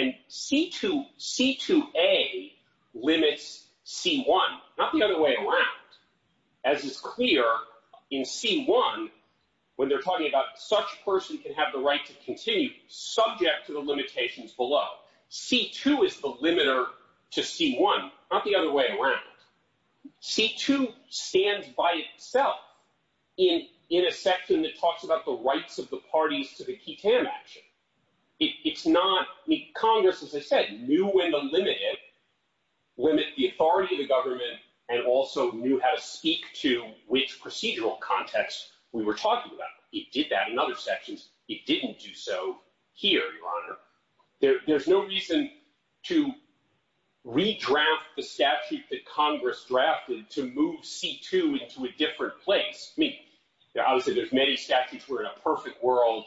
And C2, C2A limits C1, not the other way around. As it's clear in C1, when they're talking about such person can have the right to continue subject to the limitations below. C2 is the limiter to C1, not the other way around. C2 stands by itself in, in a section that talks about the rights of the parties to the key action. It's not the Congress, as I said, knew when to limit it, limit the authority of the government and also knew how to speak to which procedural context we were talking about. He did that in other sections. He didn't do so here, your honor. There's no reason to redraft the statute that Congress drafted to move C2 into a different place. I would say there's many statutes were in a perfect world.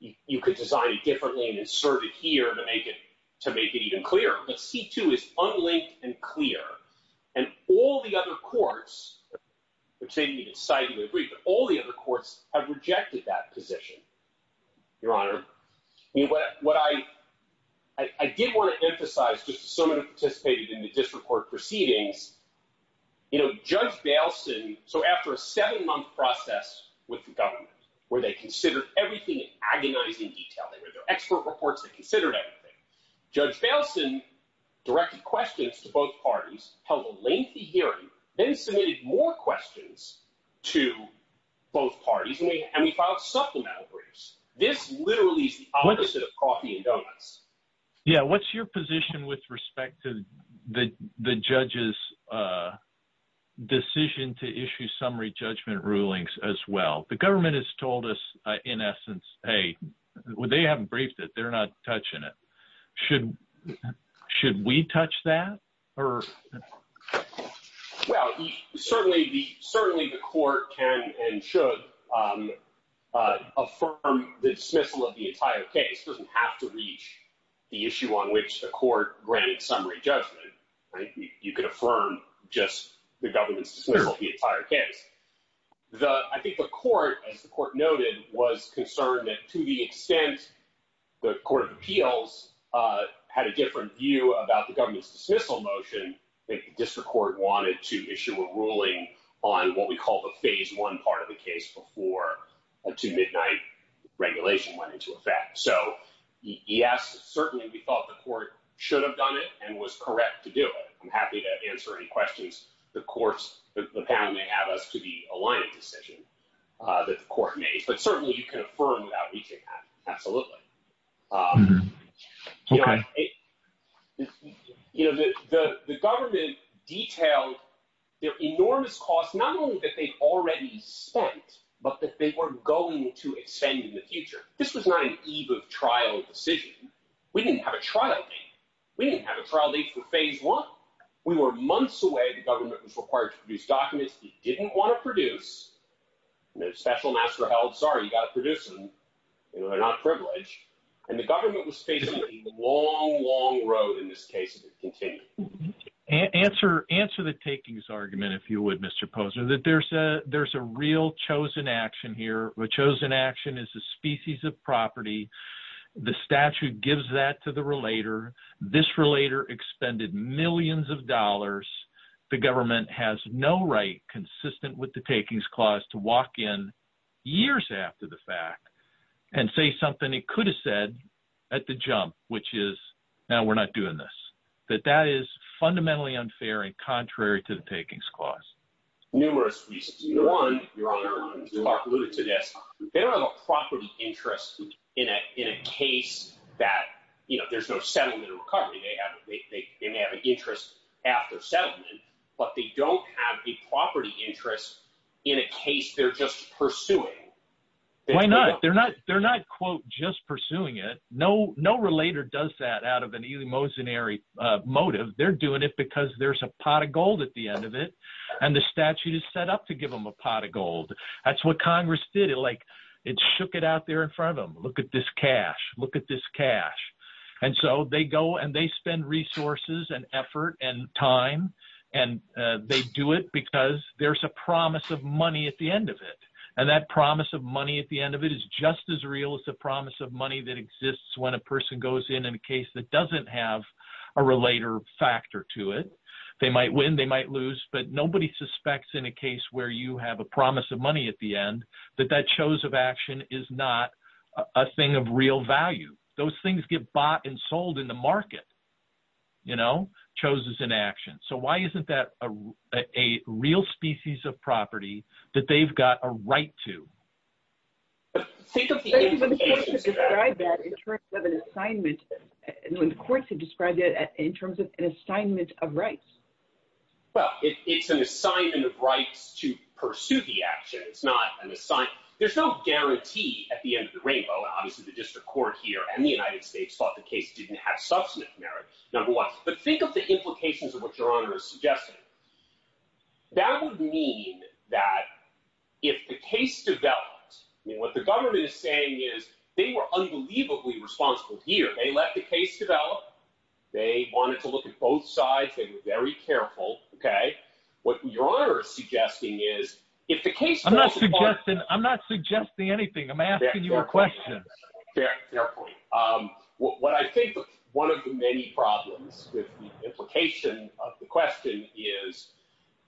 You could design it differently and insert it here to make it, to make it even clearer. But C2 is unlinked and clear and all the other courts, which they need to sign the brief, all the other courts have rejected that position, your honor. What I did want to emphasize, just so many participated in the district court proceedings, you know, judge Gailson. So after a seven month process with the government, where they considered everything in detail, there's no expert reports that considered everything. Judge Gailson directed questions to both parties, held a lengthy hearing, then submitted more questions to both parties. And we filed supplemental briefs. This literally opposite of coffee and donuts. Yeah. What's your position with respect to the judge's decision to issue summary judgment rulings as well? The government has told us in essence, Hey, well, they haven't briefed it. They're not touching it. Should, should we touch that or? Well, certainly the, certainly the court can and should affirm the dismissal of the entire case. It doesn't have to be the issue on which the court grades summary judgment. You can affirm just the government's dismissal of the entire case. I think the court, as the court noted, was concerned that to the extent the court of appeals had a different view about the government's dismissal motion. I think the district court wanted to issue a ruling on what we call the phase one part of the case before a two midnight regulation went into effect. So he asked certainly we thought the court should have done it and was correct to do it. I'm happy to answer any questions. The courts, the panel may have us to be aligned decision that the court made, but certainly you can affirm that. We can absolutely. You know, the, the, the government detailed, you know, enormous costs, not only that they already spent, but that they weren't going to extend in the future. This was not an eve of trial decision. We didn't have a trial date. We didn't have a trial date for phase one. We were months away the government was required to produce documents. He didn't want to produce the special master health. Sorry. You got to produce them. They were not privileged and the government was facing a long, long road in this case. Answer, answer the takings argument. If you would, Mr. Posner that there's a, there's a real chosen action here, which shows an action is a species of property. The statute gives that to the relator. This relator expended millions of dollars. The government has no right consistent with the takings clause to walk in years after the fact and say something he could have said at the jump, which is now we're not doing this, but that is fundamentally unfair and contrary to the takings clause. You're on your own. They don't have a property interest in a, in a case that, you know, there's no settlement or recovery. They haven't, they didn't have an interest after settlement, but they don't have the property interest in a case. They're just pursuing. Why not? They're not, they're not quote, just pursuing it. No, no relator does that out of an emotionary motive. They're doing it because there's a pot of gold at the end of it. And the statute is set up to give them a pot of gold. That's what Congress did it like it shook it out there in front of them. Look at this cash, look at this cash. And so they go and they spend resources and effort and time and they do it because there's a promise of money at the end of it. And that promise of money at the end of it is just as real as the promise of money that exists. It's when a person goes in and a case that doesn't have a relator factor to it, they might win, they might lose, but nobody suspects in a case where you have a promise of money at the end that that shows of action is not a thing of real value. Those things get bought and sold in the market, you know, chose as an action. So why isn't that a real species of property that they've got a right to? And the courts have described it in terms of an assignment of rights. Well, it's an assignment of rights to pursue the action. It's not an assignment. There's no guarantee at the end of the rainbow, obviously the district court here and the United States thought the case didn't have substantive merits. Number one, but think of the implications of what your honor is suggesting. That would mean that if the case develops, what the government is saying is they were unbelievably responsible here. They let the case develop. They wanted to look at both sides. They were very careful. Okay. What your honor is suggesting is I'm not suggesting anything. I'm asking you a question. What I think one of the many problems with the implication of the question is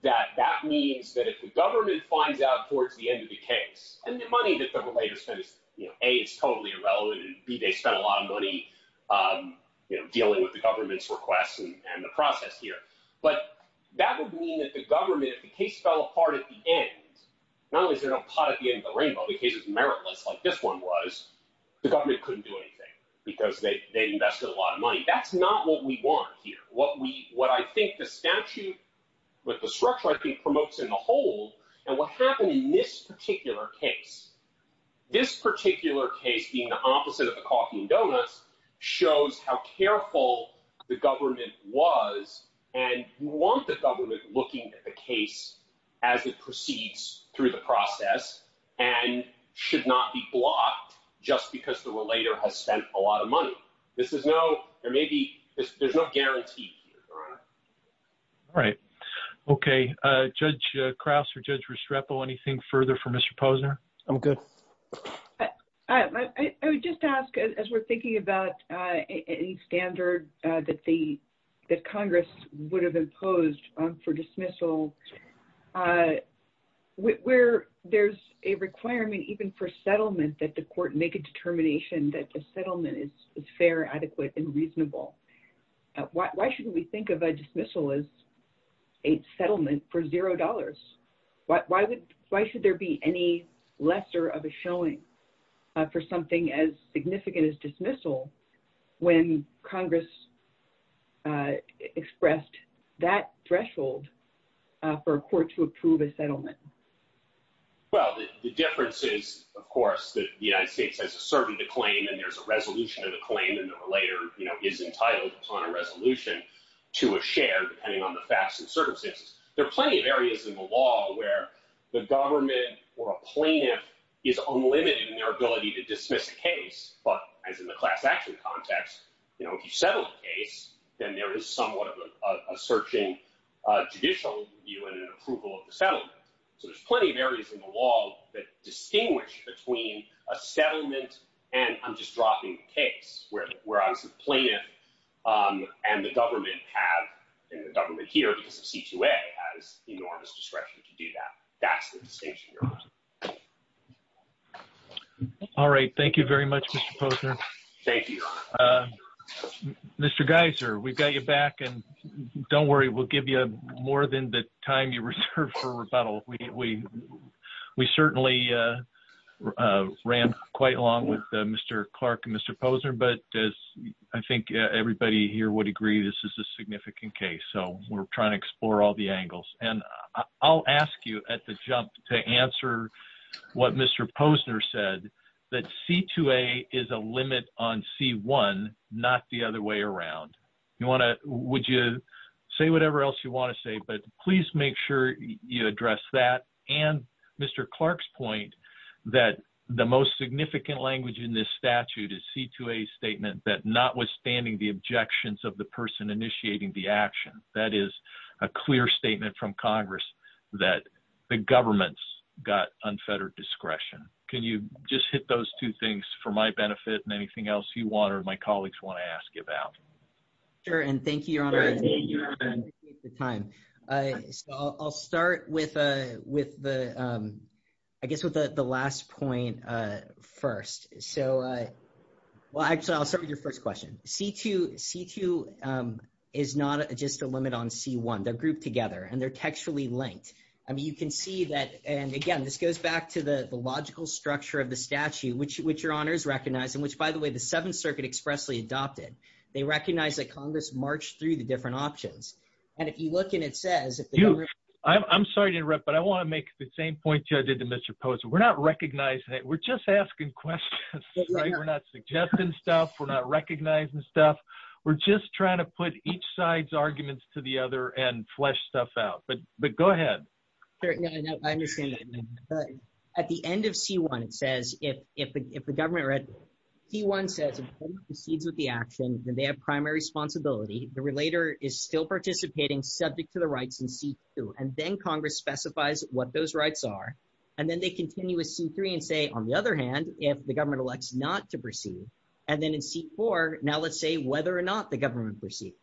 that that means that if the government finds out towards the end of the case and the money that they're related to, you know, A is totally irrelevant and B they spent a lot of money, you know, dealing with the government's requests and the process here, but that would mean that the government, if the case fell apart at the end, not only did they not pot at the end of the rainbow, the case's meritless like this one was, the government couldn't do anything because they invested a lot of money. That's not what we want here. What we, what I think the statute with the structure I think promotes in the whole and what happened in this particular case, this particular case being the opposite of the coffee and donuts shows how careful the government was. And you want the government looking at the case as it proceeds through the process and should not be blocked just because the relator has spent a lot of money. This is no, there may be, there's no guarantee. All right. Okay. Judge Krause or judge Restrepo, anything further from Mr. Posner? I'm good. I would just ask as we're thinking about any standard that the, that Congress would have imposed on for dismissal where there's a requirement, even for settlement that the court make a determination that the settlement is fair, adequate and reasonable. Why shouldn't we think of a dismissal as a settlement for $0? Why would, why should there be any lesser of a showing for something as significant as dismissal when Congress expressed that threshold for a court to approve a settlement? Well, the difference is of course that the United States has asserted the claim and there's a resolution to the claim and the relator, you know, is entitled upon a resolution to a share depending on the facts and circumstances. There are plenty of areas in the law where the government or a plaintiff is unlimited in their ability to dismiss the case. But as in the class action context, you know, if you settle the case, then there is somewhat of a searching judicial view and an approval of the settlement. So there's plenty of areas in the law that distinguish between a settlement and I'm just dropping the case where I'm complaining. And the government has, and the government here at C2A has enormous discretion to do that. That's the distinction. All right. Thank you very much, Mr. Posner. Thank you. Mr. Geiser, we've got your back and don't worry, we'll give you more than the time you reserved for rebuttal. We, we, we certainly ran quite along with Mr. Clark and Mr. Posner, but as I think everybody here would agree, this is a significant case. So we're trying to explore all the angles and I'll ask you at the jump to answer what Mr. Posner said that C2A is a limit on C1, not the other way around. You want to, would you say whatever else you want to say, but please make sure you address that. And Mr. Geiser, I think the most significant language in this statute is C2A statement that notwithstanding the objections of the person initiating the action, that is a clear statement from Congress. That the government's got unfettered discretion. Can you just hit those two things for my benefit and anything else you want, or my colleagues want to ask you about. Sure. And thank you. The time. I'll start with, with the. I guess with the last point first, so. Well, actually I'll start with your first question. C2 is not just a limit on C1. They're grouped together and they're textually linked. I mean, you can see that. And again, this goes back to the logical structure of the statute, which your honors recognize and which by the way, the seventh circuit expressly adopted. They recognize that Congress marched through the different options. And if you look and it says. I'm sorry to interrupt, but I want to make the same point you did to Mr. Posey. We're not recognizing it. We're just asking questions. We're not suggesting stuff. We're not recognizing stuff. We're just trying to put each side's arguments to the other and flesh stuff out, but, but go ahead. I understand. At the end of C1 says if, if, if the government. He wants to. He's with the actions and they have primary responsibility. The relator is still participating subject to the rights and C2. And then Congress specifies what those rights are. And then they continue with C3 and say, on the other hand, if the government elects not to proceed. And then in C4, now let's say whether or not the government proceeds.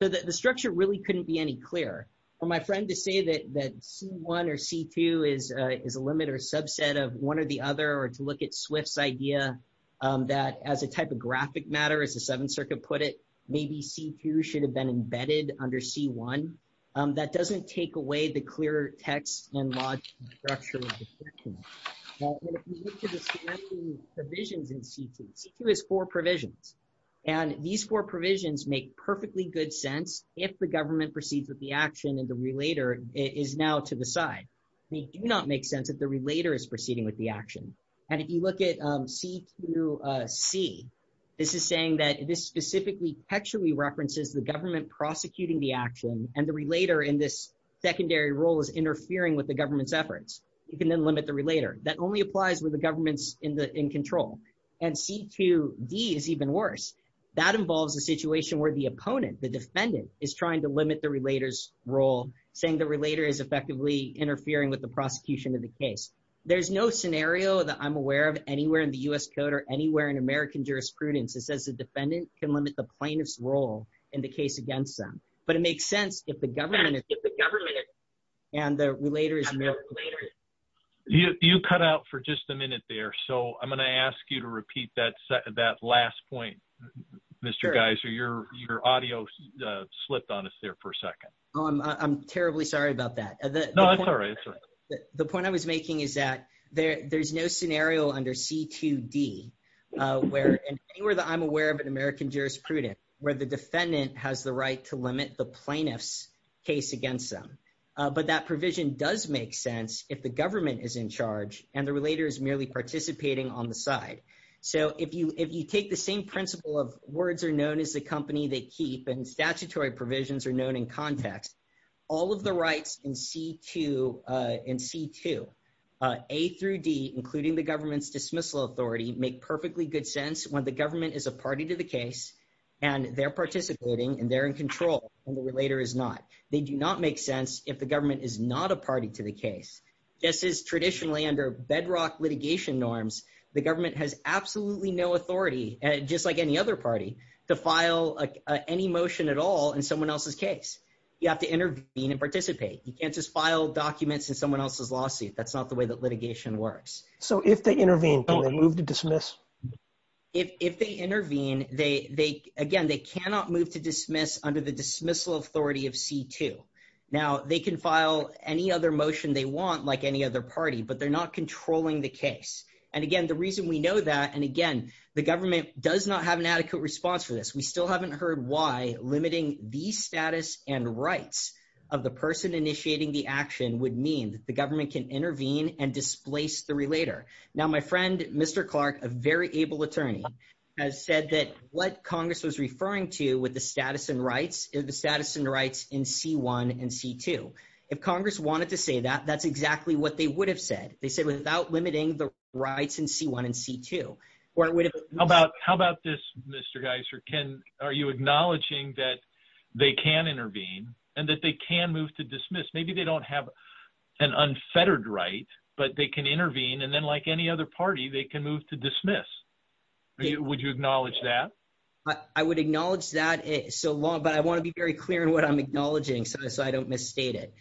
So that the structure really couldn't be any clearer. I'm trying to say that that C1 or C2 is a, is a limit or a subset of one or the other, or to look at Swift's idea. That as a type of graphic matter, as the seventh circuit put it, maybe C2 should have been embedded under C1. That doesn't take away the clear text. Okay. And then C2 says, if the government proceeds with the action and the relator is now to the side, it does not make sense that the relator is proceeding with the action. And if you look at C2C. This is saying that this specifically actually references the government prosecuting the action. And the relator in this secondary role is interfering with the government's efforts. You can then limit the relator. That only applies with the government's in the, in control. And C2B is even worse. That involves a situation where the opponent, the defendant is trying to limit the relators role. Saying the relator is effectively interfering with the prosecution of the case. There's no scenario that I'm aware of anywhere in the U S code or anywhere in American jurisprudence. It says the defendant can limit the plainest role in the case against them. But it makes sense if the government, if the government and the relator is. You cut out for just a minute there. So I'm going to ask you to repeat that set of that last point, Mr. Geiser, your, your audio slipped on us there for a second. I'm terribly sorry about that. The point I was making is that there there's no scenario under C2D. Where, where the I'm aware of an American jurisprudence where the defendant has the right to limit the plaintiff's case against them. But that provision does make sense. If the government is in charge and the relator is merely participating on the side. So if you, if you take the same principle of words are known as the company, they keep and statutory provisions are known in context. All of the rights in C2 and C2. A through D, the government is in charge and the relator is not. So the provisions of the statute, including the government's dismissal, authority, make perfectly good sense. When the government is a party to the case. And they're participating and they're in control. And the relator is not, they do not make sense. If the government is not a party to the case. This is traditionally under bedrock litigation norms. The government has absolutely no authority. And just like any other party. You have to intervene and participate. You can't just file documents in someone else's lawsuit. That's not the way that litigation works. So if they intervene, If they intervene, they, they, again, they cannot move to dismiss under the dismissal authority of C2. Now they can file any other motion they want like any other party, but they're not controlling the case. And again, the reason we know that, and again, the government does not have an adequate response for this. We still haven't heard why limiting the status and rights of the person initiating the action would mean that the government can intervene and displace the relator. Now, my friend, Mr. Clark, a very able attorney has said that what Congress was referring to with the status and rights is the status and rights in C1 and C2. If Congress wanted to say that that's exactly what they would have said. They said without limiting the rights in C1 and C2. How about, how about this, Mr. Geiser? Can, are you acknowledging that they can intervene and that they can move to dismiss? Maybe they don't have an unfettered right, but they can intervene. And then like any other party, they can move to dismiss. Would you acknowledge that? I would acknowledge that so long, but I want to be very clear in what I'm acknowledging. So I don't misstate it.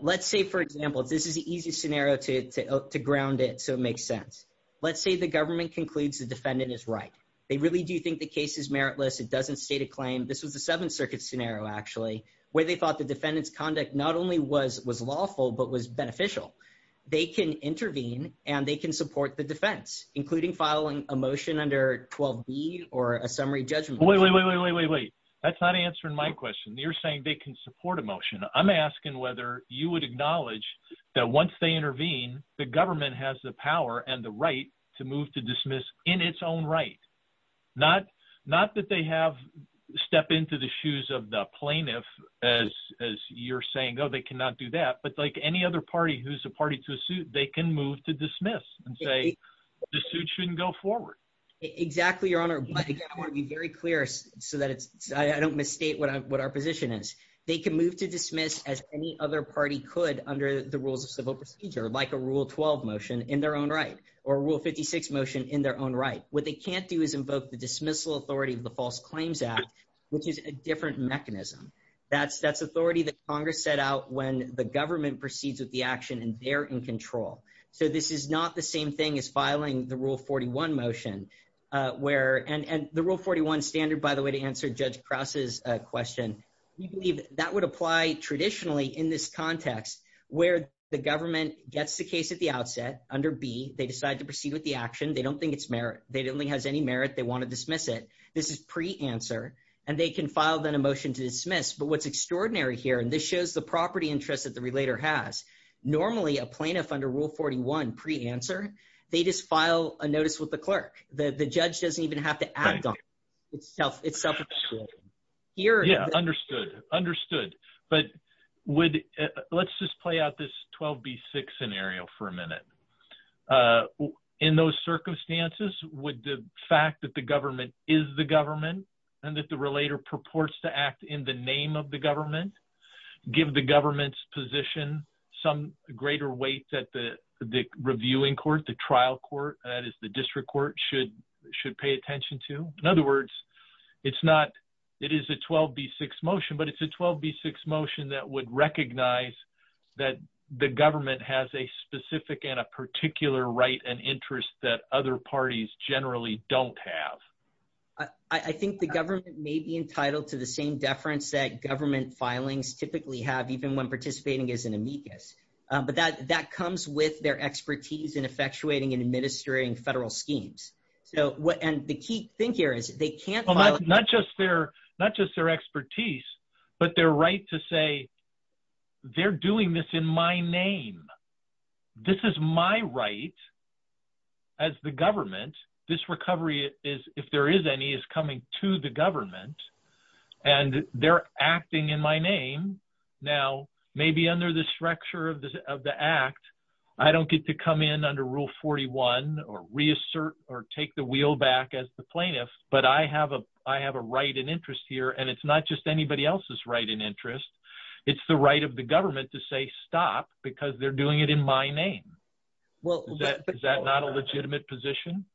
Let's say, for example, this is the easiest scenario to ground it. So it makes sense. Let's say the government concludes the defendant is right. They really do think the case is meritless. It doesn't state a claim. This was the seventh circuit scenario, actually, where they thought the defendant's conduct not only was, was lawful, but was beneficial. They can intervene and they can support the defense, including filing a motion under 12 B or a summary judgment. Wait, wait, wait, wait, wait, wait. That's not answering my question. You're saying they can support a motion. I'm asking whether you would acknowledge that once they intervene, the government has the power and the right to move to dismiss in its own right. Not, not that they have stepped into the shoes of the plaintiff as, as you're saying, Oh, they cannot do that. But like any other party, who's a party to the suit, they can move to dismiss and say the suit shouldn't go forward. Exactly. Your Honor, I want to be very clear so that it's, I don't misstate what our position is. They can move to dismiss as any other party could under the rules of civil procedure, like a rule 12 motion in their own right, or rule 56 motion in their own right. What they can't do is invoke the dismissal authority of the false claims act, which is a different mechanism. That's, that's authority that Congress set out when the government proceeds with the action and they're in control. So this is not the same thing as filing the rule 41 motion where, and the rule 41 standard, by the way, to answer Judge Krause's question, we believe that would apply traditionally in this context where the government gets the case at the outset under B, they decide to proceed with the action. They don't think it's merit. They don't think it has any merit. They want to dismiss it. This is pre-answer and they can file then a motion to dismiss. But what's extraordinary here, and this shows the property interest that the relator has normally a plaintiff under rule 41 pre-answer, they just file a notice with the clerk. The judge doesn't even have to act on it. Yeah, understood, understood. But would, let's just play out this 12B6 scenario for a minute. In those circumstances, would the fact that the government is the government and that the relator purports to act in the name of the government, give the government's position some greater weight that the reviewing court, the trial court, that is the district court should, should pay attention to. In other words, it's not, it is a 12B6 motion, but it's a 12B6 motion that would recognize that the government has a specific and a particular right and interest that other parties generally don't have. I think the government may be entitled to the same deference that government filings typically have, even when participating as an amicus. But that, that comes with their expertise in effectuating and administering federal schemes. So what, and the key thing here is they can't, not just their, not just their expertise, but their right to say they're doing this in my name. This is my right as the government. This recovery is, if there is any is coming to the government and they're acting in my name. Now, maybe under the structure of the, of the act, I don't get to come in under rule 41 or reassert or take the wheel back as the plaintiff. But I have a, I have a right and interest here and it's not just anybody else's right and interest. It's the right of the government to say stop because they're doing it in my name. Is that not a legitimate position?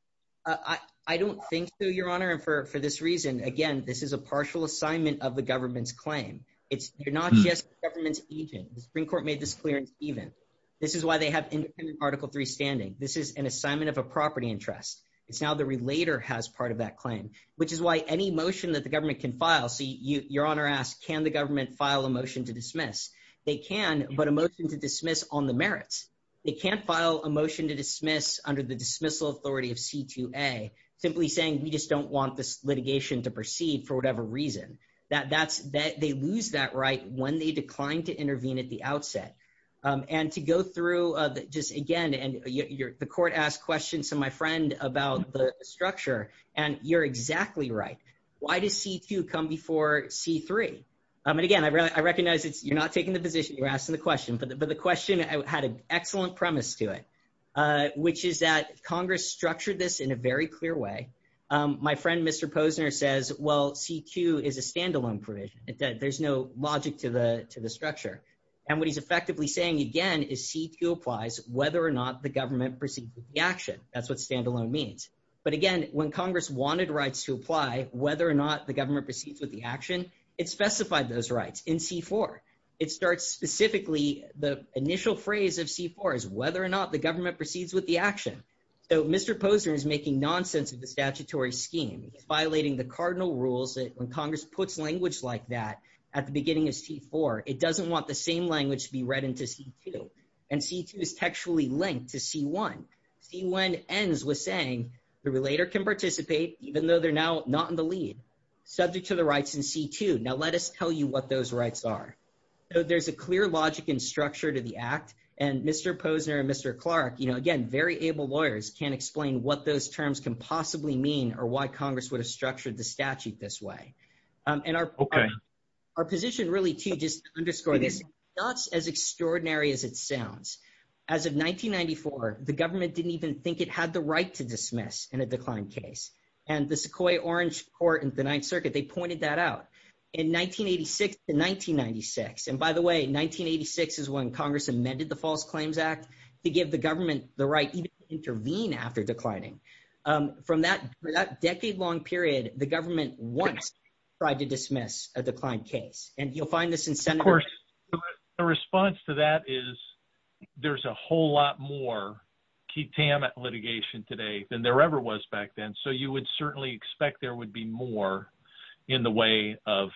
I don't think so, Your Honor. And for, for this reason, again, this is a partial assignment of the government's claim. It's not just the government's agent. The Supreme Court made this clear in Stevens. This is why they have independent article three standing. This is an assignment of a property interest. It's now the relator has part of that claim, which is why any motion that the government can file. So you, Your Honor asked, can the government file a motion to dismiss? They can, but a motion to dismiss on the merits, they can't file a motion to dismiss under the dismissal authority of CQA simply saying, we just don't want this litigation to proceed for whatever reason that that's that they lose that right. When they declined to intervene at the outset. And to go through just again, and you're the court asked questions to my friend about the structure and you're exactly right. Why does C2 come before C3? And again, I recognize that you're not taking the position. You're asking the question, but the, but the question had an excellent premise to it, which is that Congress structured this in a very clear way. My friend, Mr. Posner says, well, CQ is a standalone provision. There's no logic to the, to the structure. And what he's effectively saying, again, is CQ applies whether or not the government proceeds with the action. That's what standalone means. But again, when Congress wanted rights to apply, whether or not the government proceeds with the action, it specified those rights in C4. It starts specifically, the initial phrase of C4 is whether or not the government proceeds with the action. So Mr. Posner is making nonsense of the statutory scheme, violating the cardinal rules. When Congress puts language like that at the beginning of C4, it doesn't want the same language to be read into C2. And C2 is textually linked to C1. C1 ends with saying, the relator can participate even though they're now not in the lead, subject to the rights in C2. Now let us tell you what those rights are. So there's a clear logic and structure to the act and Mr. Posner and Mr. Clark, you know, again, very able lawyers can't explain what those terms can possibly mean or why Congress would have structured the statute this way. And our, our position really to just underscore this, it's not as extraordinary as it sounds. As of 1994, the government didn't even think it had the right to dismiss in a decline case. And the Sequoyah Orange Court in the ninth circuit, they pointed that out in 1986 to 1996. And by the way, 1986 is when Congress amended the False Claims Act to give the government the right to intervene after declining. From that, for that decade long period, the government once tried to dismiss a declined case and you'll find this incentive. The response to that is there's a whole lot more litigation today than there ever was back then. So you would certainly expect there would be more in the way of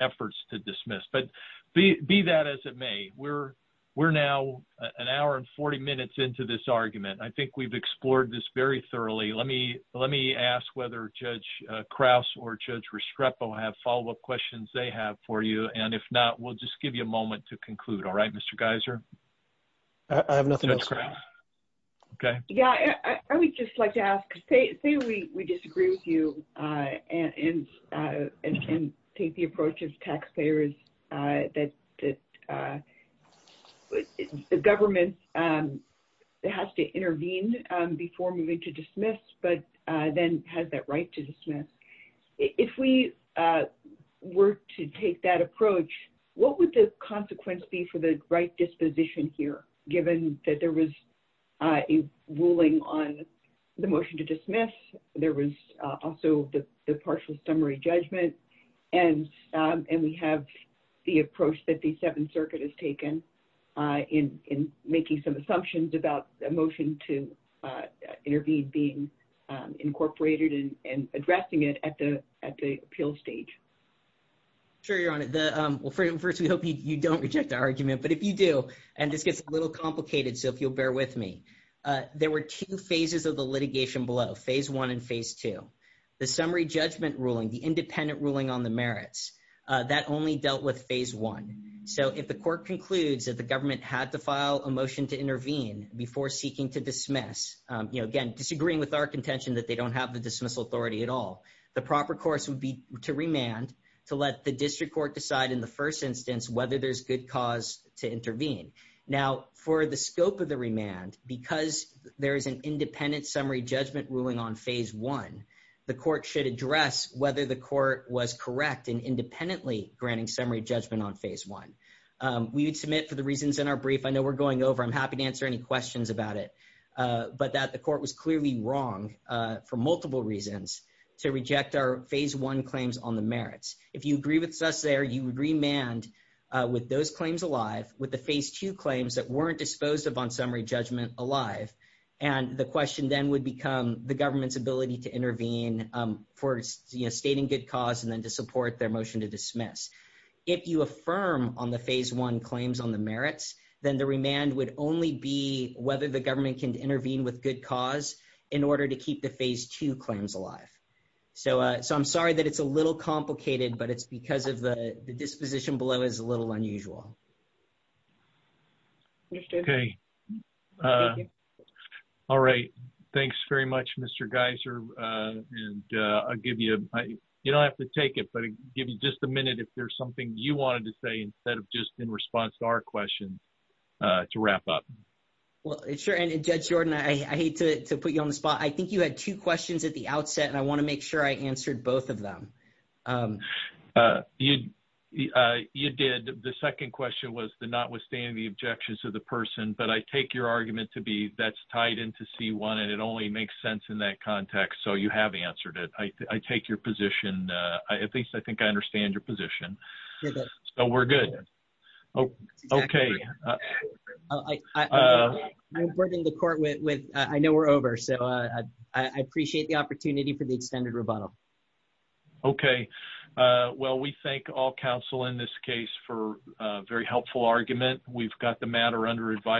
efforts to dismiss, but be that as it may, we're, we're now an hour and 40 minutes into this argument. I think we've explored this very thoroughly. Let me, let me, let me ask whether Judge Krause or Judge Restrepo have follow-up questions they have for you. And if not, we'll just give you a moment to conclude. All right, Mr. Geiser. I have nothing else to add. Okay. Yeah. I would just like to ask, say we disagree with you, and take the approach of taxpayers that the government has to intervene before moving to dismiss, but then has that right to dismiss. If we were to take that approach, what would the consequence be for the right disposition here, given that there was a ruling on the motion to dismiss, there was also the partial summary judgment. And, and we have the approach that the seventh circuit has taken in, in making some assumptions about a motion to intervene being incorporated and addressing it at the, at the appeal stage. Sure, Your Honor. Well, first, we hope you don't reject the argument, but if you do, and this gets a little complicated. So if you'll bear with me, there were two phases of the litigation below phase one and phase two, the summary judgment ruling, the independent ruling on the merits, that only dealt with phase one. So if the court concludes that the government had to file a motion to intervene before seeking to dismiss, you know, again, disagreeing with our contention that they don't have the dismissal authority at all, the proper course would be to remand to let the district court decide in the first instance, whether there's good cause to intervene. Now, for the scope of the remand, because there is an independent summary judgment ruling on phase one, the court should address whether the court was correct in independently granting summary judgment on phase one. We would submit for the reasons in our brief. I know we're going over, I'm happy to answer any questions about it, but that the court was clearly wrong for multiple reasons to reject our phase one claims on the merits. If you agree with us there, you would remand with those claims alive with the phase two claims that weren't disposed of on summary judgment alive. And the question then would become the government's ability to intervene for stating good cause and then to support their motion to dismiss. If you affirm on the phase one claims on the merits, then the remand would only be whether the government can intervene with good cause in order to keep the phase two claims alive. So, so I'm sorry that it's a little complicated, but it's because of the disposition below is a little unusual. All right. Thanks very much, Mr. Geiser. And I'll give you, you don't have to take it, but give you just a minute. If there's something you wanted to say, instead of just in response to our questions to wrap up. Well, it's sure. And judge Jordan, I hate to put you on the spot. I think you had two questions at the outset and I want to make sure I answered both of them. You did. The second question was the, not withstanding the objections of the person, but I take your argument to be that's tied into C1 and it only makes sense in that context. So you have answered it. I take your position. I, at least I think I understand your position, but we're good. Oh, okay. I was working the court with, with, I know we're over. So I, I appreciate the opportunity for the extended rebuttal. Okay. Well, we thank all counsel in this case for a very helpful argument. We've got the matter under.